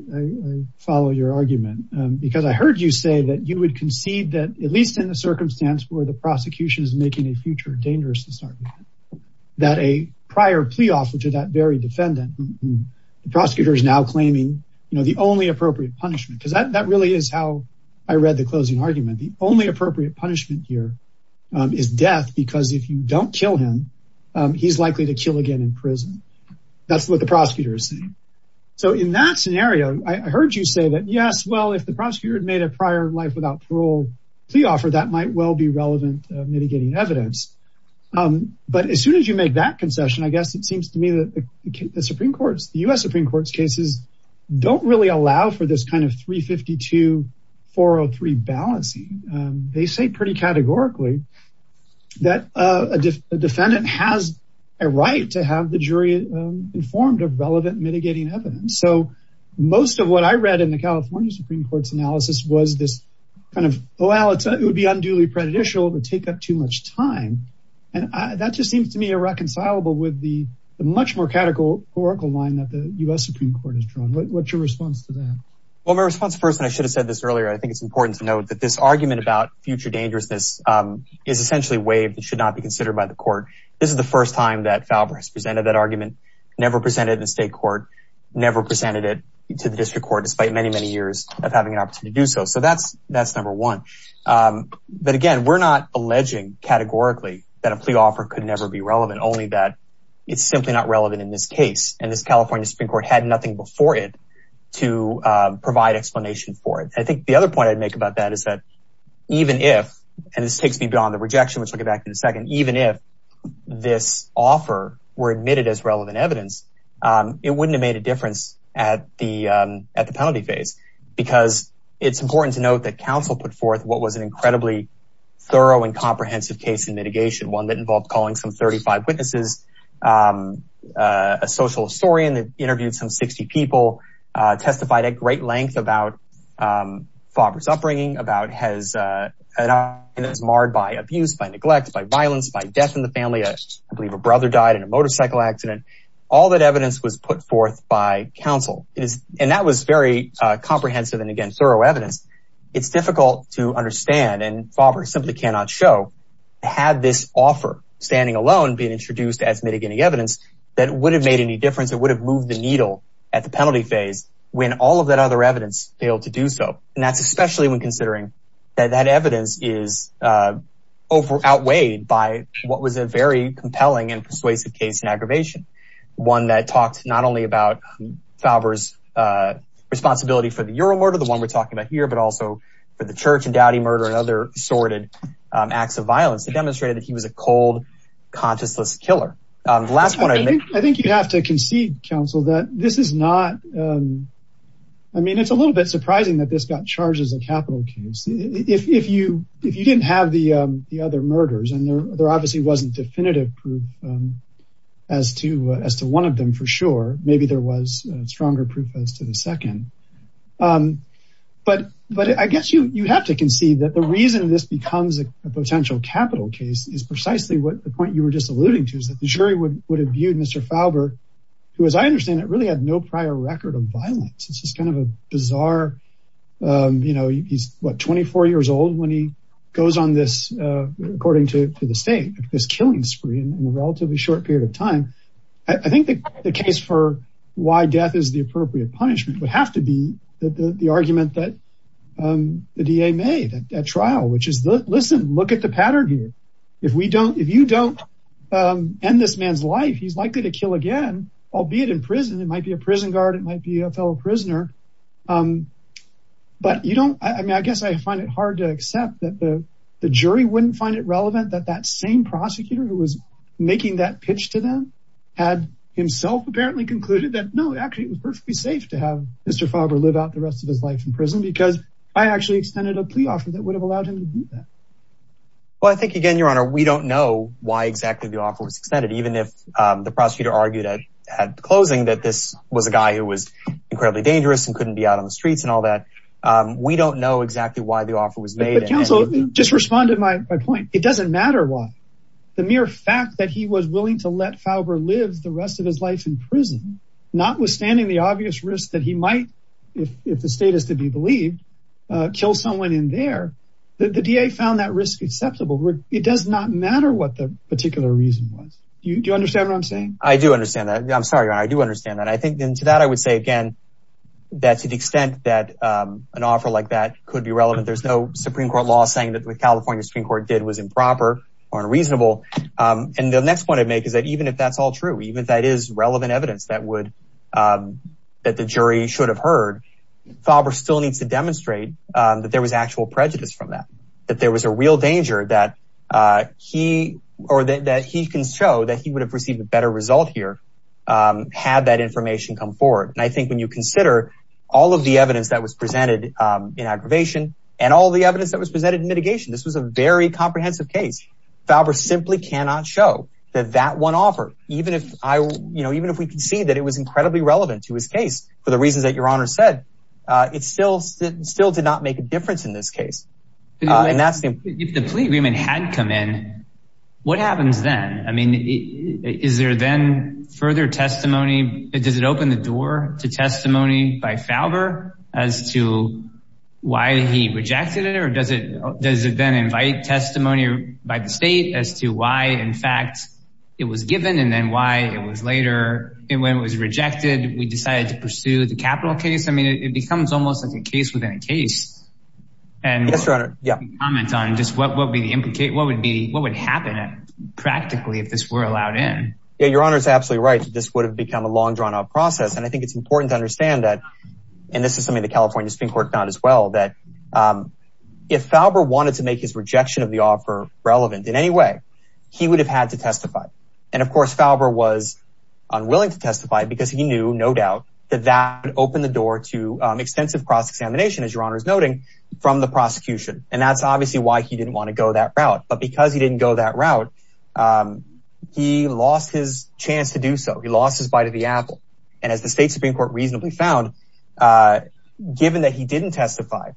follow your argument, because I heard you say that you would concede that, at least in the circumstance where the prosecution is making a dangerous decision, that a prior plea offer to that very defendant, the prosecutor is now claiming the only appropriate punishment. Because that really is how I read the closing argument. The only appropriate punishment here is death, because if you don't kill him, he's likely to kill again in prison. That's what the prosecutor is saying. So in that scenario, I heard you say that, yes, well, if the prosecutor had made a prior life without parole plea offer, that might well be mitigating evidence. But as soon as you make that concession, I guess it seems to me that the U.S. Supreme Court's cases don't really allow for this kind of 352-403 balancing. They say pretty categorically that a defendant has a right to have the jury informed of relevant mitigating evidence. So most of what I read in the California Supreme Court's analysis was this well, it would be unduly prejudicial to take up too much time. And that just seems to me irreconcilable with the much more categorical line that the U.S. Supreme Court has drawn. What's your response to that? Well, my response first, and I should have said this earlier, I think it's important to note that this argument about future dangerousness is essentially waived. It should not be considered by the court. This is the first time that Falvers presented that argument, never presented it to state court, never presented it to the district court, despite many, many years of having an opportunity to do so. So that's number one. But again, we're not alleging categorically that a plea offer could never be relevant, only that it's simply not relevant in this case. And this California Supreme Court had nothing before it to provide explanation for it. I think the other point I'd make about that is that even if, and this takes me beyond the rejection, which we'll get back to in a second, even if this offer were admitted as relevant evidence, it wouldn't have made a difference at the penalty phase, because it's important to note that counsel put forth what was an incredibly thorough and comprehensive case in mitigation, one that involves calling some 35 witnesses, a social historian that interviewed some 60 people, testified at great length about Falvers' upbringing, about his marred by abuse, by neglect, by violence, by death in the family. I believe a brother died in a motorcycle accident. All that evidence was put forth by counsel, and that was very comprehensive and again, thorough evidence. It's difficult to understand, and Falvers simply cannot show, had this offer standing alone being introduced as mitigating evidence, that it would have made any difference. It would have moved the needle at the penalty phase when all of that other evidence failed to do so. And that's especially when considering that that evidence is outweighed by what was a very compelling and persuasive case in aggravation, one that talks not only about Falvers' responsibility for the Euromurder, the one we're talking about here, but also for the church and Dowdy murder and other assorted acts of violence. It demonstrated that he was a cold, conscienceless killer. The last one- I think you have to concede, counsel, that this is not, I mean, it's a little bit surprising that this got charged as a capital case. If you didn't have the other murders, and there obviously wasn't definitive proof as to one of them for sure, maybe there was stronger proof as to the second. But I guess you have to concede that the reason this becomes a potential capital case is precisely what the point you were just alluding to, is that the jury would have viewed Mr. Falvers, who as I understand it, really had no prior record of violence. It's just kind of a bizarre, you know, he's what, 24 years old when he goes on this, according to the state, this killing spree in a relatively short period of time. I think the case for why death is the appropriate punishment would have to be the argument that the DA made at trial, which is, listen, look at the pattern here. If you don't end this man's life, he's likely to kill again, albeit in prison. It might be a prison guard, it might be a fellow prisoner. But you don't, I mean, I guess I find it hard to accept that the jury wouldn't find it relevant that that same prosecutor who was making that pitch to them had himself apparently concluded that no, actually it was perfectly safe to have Mr. Falvers live out the rest of his life in prison because I actually extended a plea offer that would have allowed him to do that. Well, I think again, Your Honor, we don't know why exactly the offer was extended, even if the prosecutor argued at the closing that this was a guy who was incredibly dangerous and we don't know exactly why the offer was made. But counsel, just respond to my point. It doesn't matter why. The mere fact that he was willing to let Falvers live the rest of his life in prison, notwithstanding the obvious risk that he might, if the state is to be believed, kill someone in there, the DA found that risk acceptable. It does not matter what the particular reason was. Do you understand what I'm saying? I do understand that. I'm sorry, Your Honor, I do understand that. I think then to that, I would say again, that to the extent that an offer like that could be relevant, there's no Supreme Court law saying that what California Supreme Court did was improper or unreasonable. And the next point I'd make is that even if that's all true, even if that is relevant evidence that would, that the jury should have heard, Falvers still needs to demonstrate that there was actual prejudice from that. That there was a real danger that he or that he can show that he would have received a better result here had that information come forward. And I think when you consider all of the evidence that was presented in aggravation and all the evidence that was presented in mitigation, this was a very comprehensive case. Falvers simply cannot show that that one offer, even if I, you know, even if we can see that it was incredibly relevant to his case, for the reason that Your Honor said, it still, still did not make a difference in this case. And that's the point. Hadn't come in, what happens then? I mean, is there then further testimony? Does it open the door to testimony by Falvers as to why he rejected it? Or does it, does it then invite testimony by the state as to why in fact it was given and then why it was later when it was rejected, we decided to pursue the capital case? I mean, it becomes almost like a case within a case. And comment on just what will be the implication? What would be, what would happen practically if this were allowed in? Yeah, Your Honor is absolutely right. So this would have become a long drawn out process. And I think it's important to understand that, and this is something the California Supreme Court found as well, that if Falvers wanted to make his rejection of the offer relevant in any way, he would have had to testify. And of course, Falvers was unwilling to testify because he knew no doubt that that would open the door to extensive cross-examination, as Your Honor is noting, from the prosecution. And that's obviously why he didn't want to go that route. But because he didn't go that route, he lost his chance to do so. He lost his bite of the apple. And as the state Supreme Court reasonably found, given that he didn't testify,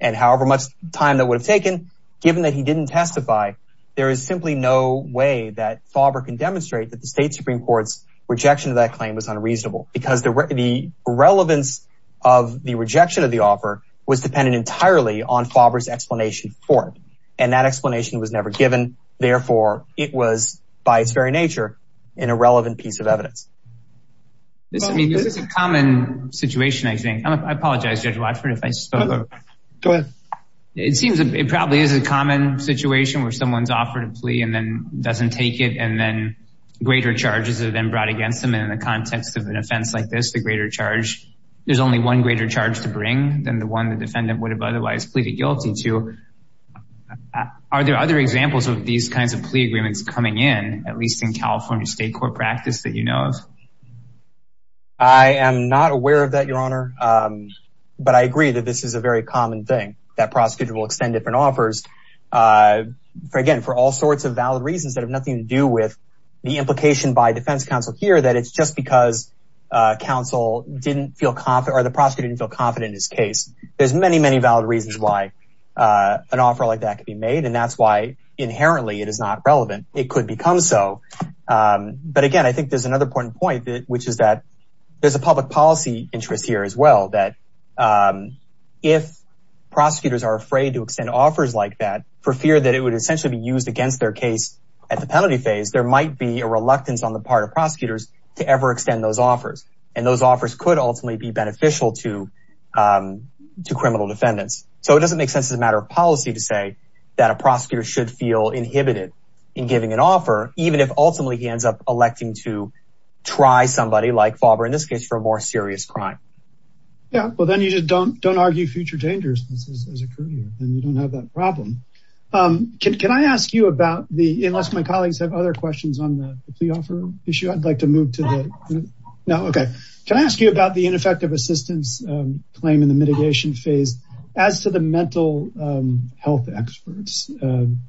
and however much time that would have taken, given that he didn't testify, there is simply no way that Falvers can demonstrate that the state Supreme Court's claim was unreasonable. Because the relevance of the rejection of the offer was dependent entirely on Falvers' explanation for it. And that explanation was never given. Therefore, it was, by its very nature, an irrelevant piece of evidence. It's a common situation, I think. I apologize, Judge Rochford, if I spoke up. Go ahead. It seems it probably is a common situation where someone's offering a plea and then doesn't take it, and then greater charges are then brought against them. And in the context of an offense like this, the greater charge, there's only one greater charge to bring than the one the defendant would have otherwise pleaded guilty to. Are there other examples of these kinds of plea agreements coming in, at least in California state court practice, that you know of? I am not aware of that, Your Honor. But I agree that this is a very common thing, that prosecutors will extend different offers, again, for all sorts of valid reasons that have to do with the implication by defense counsel here that it's just because the prosecutor didn't feel confident in his case. There's many, many valid reasons why an offer like that could be made, and that's why inherently it is not relevant. It could become so. But again, I think there's another important point, which is that there's a public policy interest here as well, that if prosecutors are afraid to extend offers like that for fear that it would essentially be used against their case at the penalty phase, there might be a reluctance on the part of prosecutors to ever extend those offers. And those offers could ultimately be beneficial to criminal defendants. So it doesn't make sense as a matter of policy to say that a prosecutor should feel inhibited in giving an offer, even if ultimately he ends up electing to try somebody like Fulber, in this case, for a more serious crime. Yeah, well, then you just don't argue future dangers. And you don't have that problem. Can I ask you about the, unless my colleagues have other questions on the fee offer issue, I'd like to move to the, no, okay. Can I ask you about the ineffective assistance claim in the mitigation phase as to the mental health experts?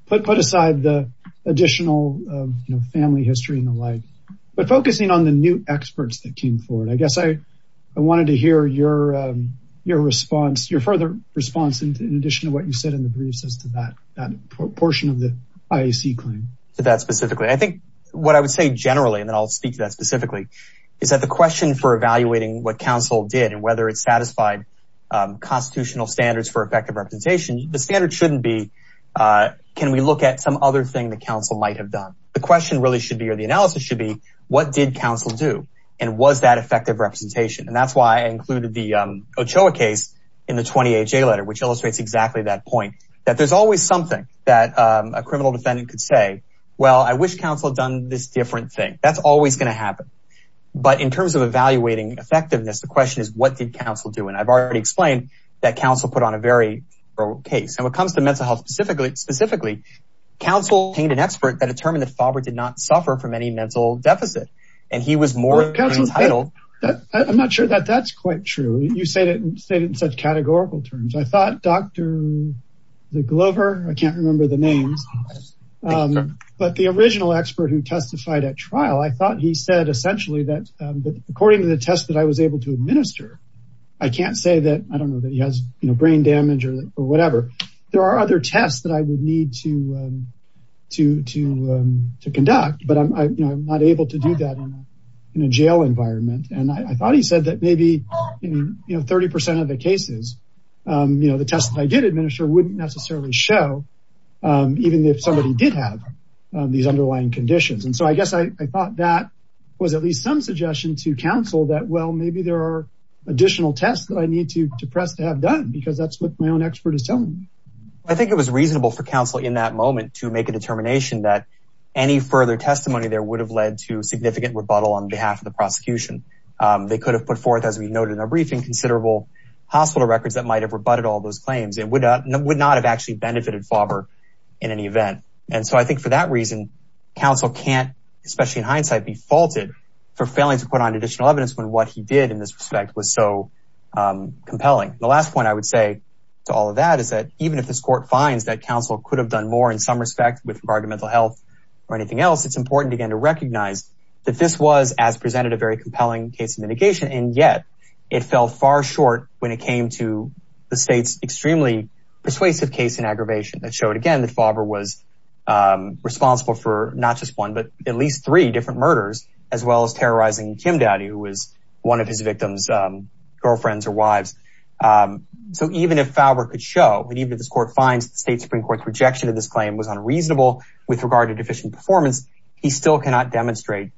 Put aside the additional family history and the like, but focusing on the new experts that came forward. I guess I wanted to hear your response, your further response in addition to what you said in the briefs as to that portion of the IAC claim. That specifically, I think what I would say generally, and then I'll speak to that specifically, is that the question for evaluating what counsel did and whether it satisfied constitutional standards for effective representation, the standard shouldn't be, can we look at some other thing that counsel might have done? The question really should be, or the analysis should be, what did counsel do? And was that representation? And that's why I included the Ochoa case in the 20HA letter, which illustrates exactly that point, that there's always something that a criminal defendant could say, well, I wish counsel had done this different thing. That's always going to happen. But in terms of evaluating effectiveness, the question is, what did counsel do? And I've already explained that counsel put on a very broad case. And when it comes to mental health specifically, counsel obtained an expert that determined the father did not suffer from any mental deficit. And he was more than entitled. I'm not sure that that's quite true. You say it in such categorical terms. I thought Dr. DeGlover, I can't remember the name, but the original expert who testified at trial, I thought he said essentially that according to the test that I was able to administer, I can't say that, I don't know that he has brain damage or whatever. There are other tests that I can conduct, but I'm not able to do that in a jail environment. And I thought he said that maybe 30% of the cases, the tests that I did administer wouldn't necessarily show, even if somebody did have these underlying conditions. And so I guess I thought that was at least some suggestion to counsel that, well, maybe there are additional tests that I need to press to have done, because that's what my own expert is telling me. I think it was any further testimony there would have led to significant rebuttal on behalf of the prosecution. They could have put forth, as we noted in our briefing, considerable hospital records that might've rebutted all those claims and would not have actually benefited father in any event. And so I think for that reason, counsel can't, especially in hindsight, be faulted for failing to put on additional evidence when what he did in this respect was so compelling. The last point I would say to all of that is that even if this court finds that counsel could have done more in some respect with regard to mental health or anything else, it's important, again, to recognize that this was, as presented, a very compelling case of mitigation. And yet it fell far short when it came to the state's extremely persuasive case in aggravation that showed, again, that Fowler was responsible for not just one, but at least three different murders, as well as terrorizing Jim Daddy, who was one of his victims' girlfriends or wives. So even if Fowler could show that this court finds state Supreme Court's rejection of this claim was unreasonable with regard to deficient performance, he still cannot demonstrate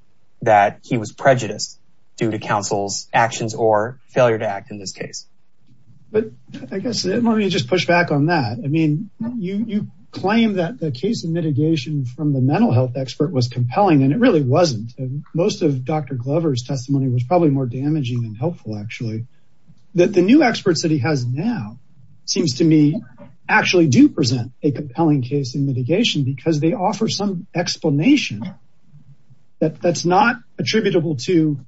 that he was prejudiced due to counsel's actions or failure to act in this case. But I guess let me just push back on that. I mean, you claim that the case of mitigation from the mental health expert was compelling, and it really wasn't. Most of Dr. Glover's testimony was probably more damaging and seems to me actually do present a compelling case in mitigation because they offer some explanation that's not attributable to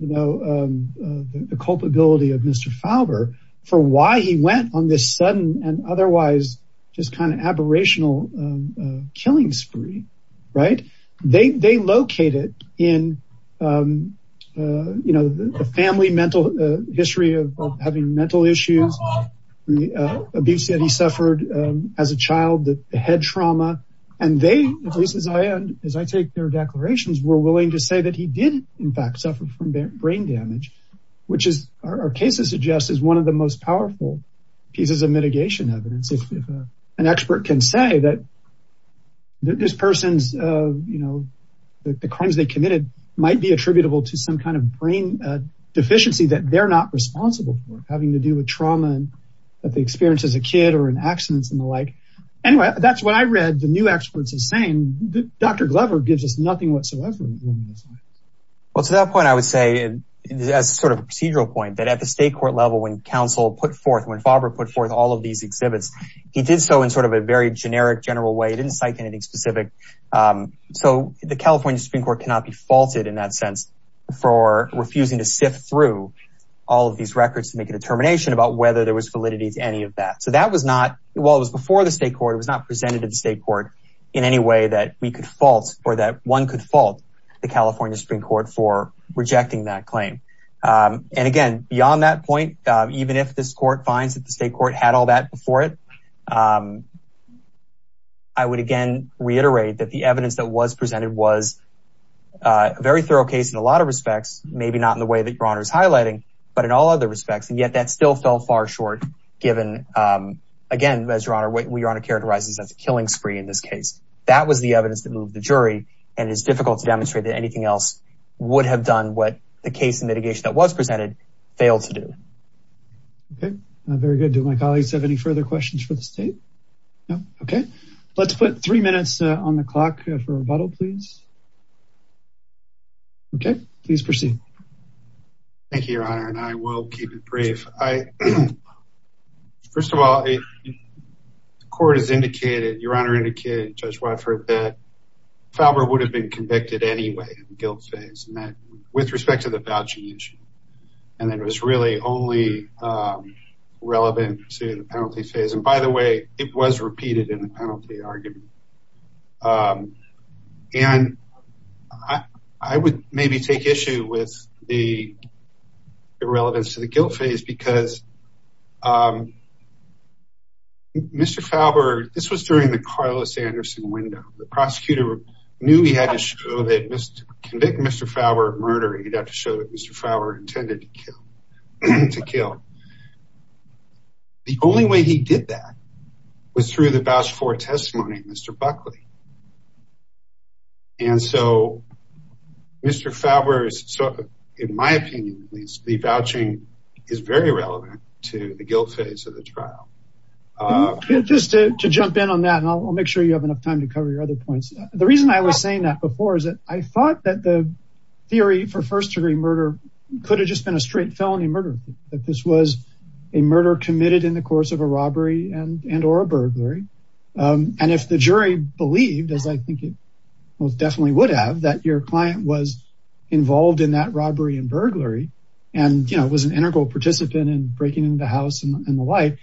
the culpability of Mr. Fowler for why he went on this sudden and otherwise just kind of aberrational killing spree, right? They locate it in the family mental history of having mental issues, the abuse that he suffered as a child, the head trauma, and they, at least as I take their declarations, were willing to say that he did in fact suffer from brain damage, which our cases suggest is one of the most powerful pieces of mitigation evidence. An expert can say that this person's, you know, the crimes they committed might be attributable to some kind of brain deficiency that they're not responsible for, having to do with trauma that they experienced as a kid or an accident and the like. Anyway, that's what I read the new experts are saying. Dr. Glover gives us nothing whatsoever. Well, to that point, I would say, as sort of a procedural point, that at the state court level, when counsel put forth, when Fowler put forth all of these exhibits, he did so in sort of a very generic, general way. I didn't cite anything specific. So the California Supreme Court cannot be faulted in that sense for refusing to sift through all of these records to make a determination about whether there was validity to any of that. So that was not, while it was before the state court, it was not presented to the state court in any way that we could fault or that one could fault the California Supreme Court for rejecting that claim. And again, beyond that point, even if this court finds that the it, I would, again, reiterate that the evidence that was presented was a very thorough case in a lot of respects, maybe not in the way that your honor is highlighting, but in all other respects. And yet that still fell far short, given, again, as your honor, what your honor characterizes as a killing spree in this case, that was the evidence that moved the jury. And it's difficult to demonstrate that anything else would have done what the case and mitigation that was presented failed to do. Okay. Very good. Do my colleagues have any further questions for the state? No. Okay. Let's put three minutes on the clock for rebuttal, please. Okay. Please proceed. Thank you, your honor. And I will keep it brief. I, first of all, the court has indicated, your honor indicated, Judge Watford, that with respect to the vouching issue, and that it was really only relevant to the penalty phase. And by the way, it was repeated in the penalty argument. And I would maybe take issue with the relevance of the guilt phase because Mr. Fauber, this was during the Carlos Anderson window. The prosecutor knew he had to show that Mr. Fauber murder, he'd have to show that Mr. Fauber intended to kill. The only way he did that was through the voucher for testimony, Mr. Buckley. And so Mr. Fauber, in my opinion, the vouching is very relevant to the guilt phase of the trial. Okay. Just to jump in on that, and I'll make sure you have enough time to cover your other points. The reason I was saying that before is that I thought that the theory for first-degree murder could have just been a straight felony murder, that this was a murder committed in the course of a robbery and or a burglary. And if the jury believed, as I think it most definitely would have, that your client was involved in that robbery and burglary and was an integral participant in the house and the like,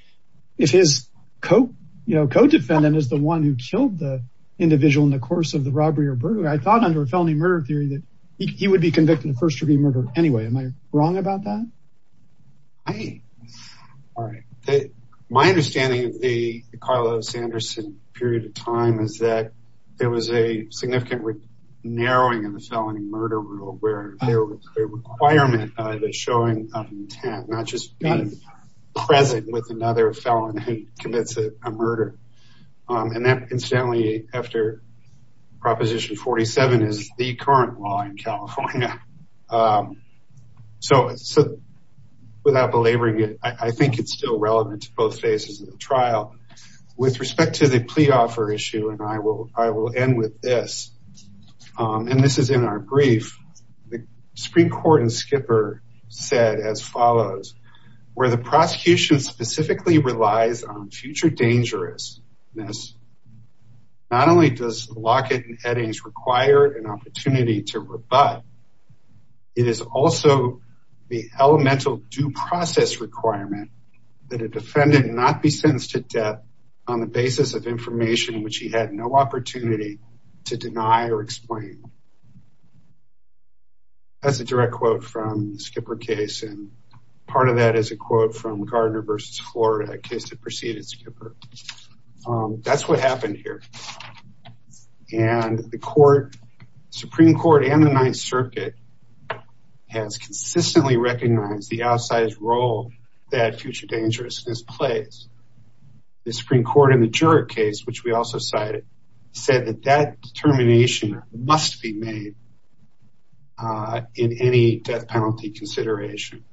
if his co-defendant is the one who killed the individual in the course of the robbery or burglary, I thought under a felony murder theory that he would be convicted of first-degree murder anyway. Am I wrong about that? Hey, all right. My understanding of the Carlos Anderson period of time is that there was a significant narrowing in the felony murder rule where there was a requirement of the showing of intent, not just being present with another felon who commits a murder. And that incidentally, after Proposition 47 is the current law in California. So without belaboring it, I think it's still relevant to both phases of the trial. With respect to the plea offer issue, and I will end with this, and this is in our brief, the Supreme Court in Skipper said as follows, where the prosecution specifically relies on future dangerousness, not only does Lockett and Eddings require an opportunity to rebut, it is also the elemental due process requirement that a defendant not be sentenced to death on the basis of information which he had no opportunity to deny or explain. That's a direct quote from the Skipper case, and part of that is a quote from Gardner versus Florida, a case that preceded Skipper. That's what happened here. And the Supreme Court and the Ninth Circuit has consistently recognized the outsized role that future dangerousness plays. The Supreme Court in the Jurick case, which we also cited, said that that determination must be made in any death penalty consideration.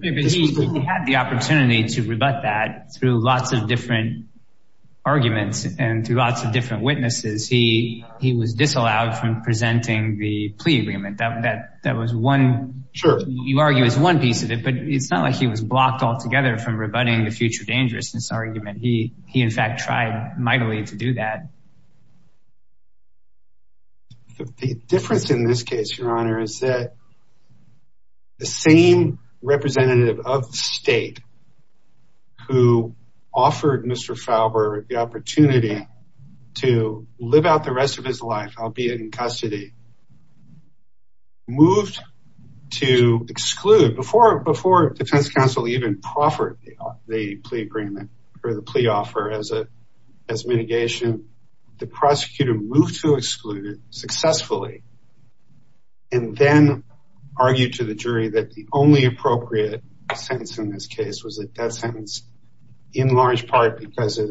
Because he had the opportunity to rebut that through lots of different arguments and through lots of different witnesses, he was disallowed from presenting the plea agreement. That was one, you argue, is one piece of it, but it's not like he was blocked altogether from rebutting the future dangerousness argument. He in fact tried mightily to do that. But the difference in this case, Your Honor, is that the same representative of the state who offered Mr. Faubourg the opportunity to live out the rest of his life, albeit in custody, moved to exclude, before the defense counsel even proffered the plea agreement, or the plea offer, as mitigation. The prosecutor moved to exclude it successfully, and then argued to the jury that the only appropriate sentence in this case was a death sentence, in large part because of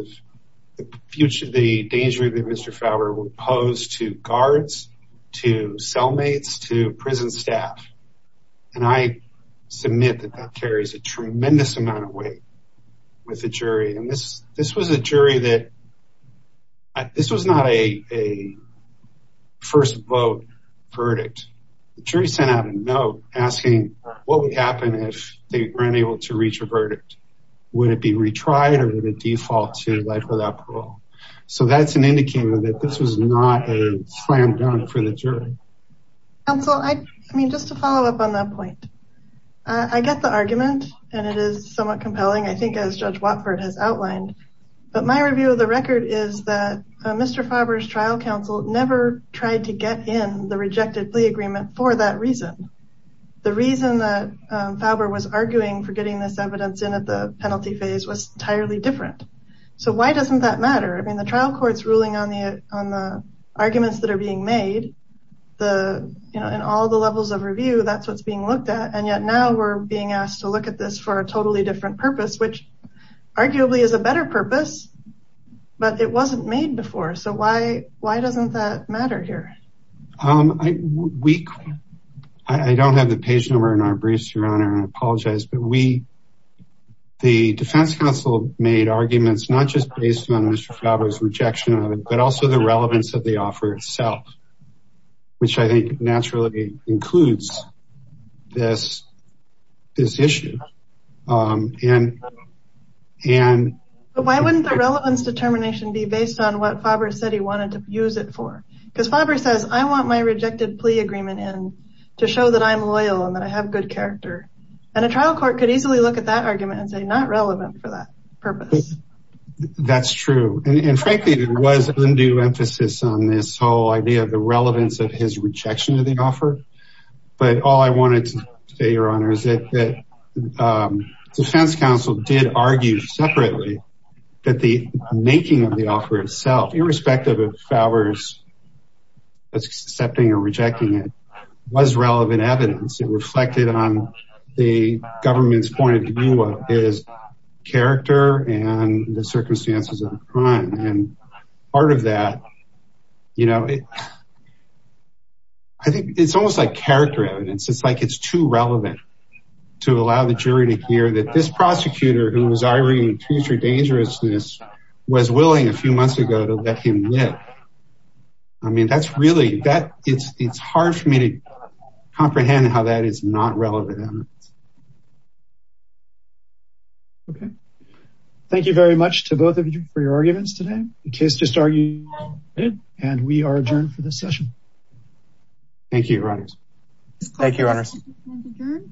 the future danger Mr. Faubourg would pose to guards, to cellmates, to prison staff. And I submit that that carries a tremendous amount of weight with the jury. And this was a jury that, this was not a first vote verdict. The jury sent out a note asking what would happen if they weren't able to reach a verdict. Would it be retried or did it default to life without parole? So that's an indicator that this was not a plan done for the jury. Counsel, I mean, just to follow up on that point, I get the argument, and it is somewhat compelling, I think, as Judge Watford has outlined. But my review of the record is that Mr. Faubourg's trial counsel never tried to get in the rejected plea agreement for that reason. The reason that Faubourg was arguing for getting this evidence in at the penalty phase was entirely different. So why doesn't that matter? I mean, the trial court's ruling on the arguments that are being made, in all the levels of review, that's what's being looked at. And yet now we're being asked to look at this for a totally different purpose, which arguably is a better purpose, but it wasn't made before. So why doesn't that matter here? I don't have the page number in our briefs, Your Honor, and I apologize, but the defense counsel made arguments not just based on Mr. Faubourg's rejection of it, but also the relevance of the offer itself, which I think naturally includes this issue. So why wouldn't the relevance determination be based on what Faubourg said he wanted to use it for? Because Faubourg says, I want my rejected plea agreement in to show that I'm loyal and that I have good character. And a trial court could easily look at that argument and say, not relevant for that purpose. That's true. And frankly, there was undue emphasis on this whole idea of the relevance of his rejection of the offer. But all I wanted to say, Your Honor, is that the defense counsel did argue separately that the making of the offer itself, irrespective of Faubourg's accepting or rejecting it, was relevant evidence. It reflected on the government's point of view of his character and the circumstances at the time. And part of that, you know, I think it's almost like character evidence. It's like it's too relevant to allow the jury to hear that this prosecutor, whose irony and future dangerousness was willing a few months ago to let him live. I mean, that's really, it's hard for me to comprehend how that is not relevant. Okay. Thank you very much to both of you for your arguments today. The case just argued and we are adjourned for this session. Thank you, Your Honor. Thank you, Your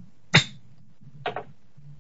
Honor.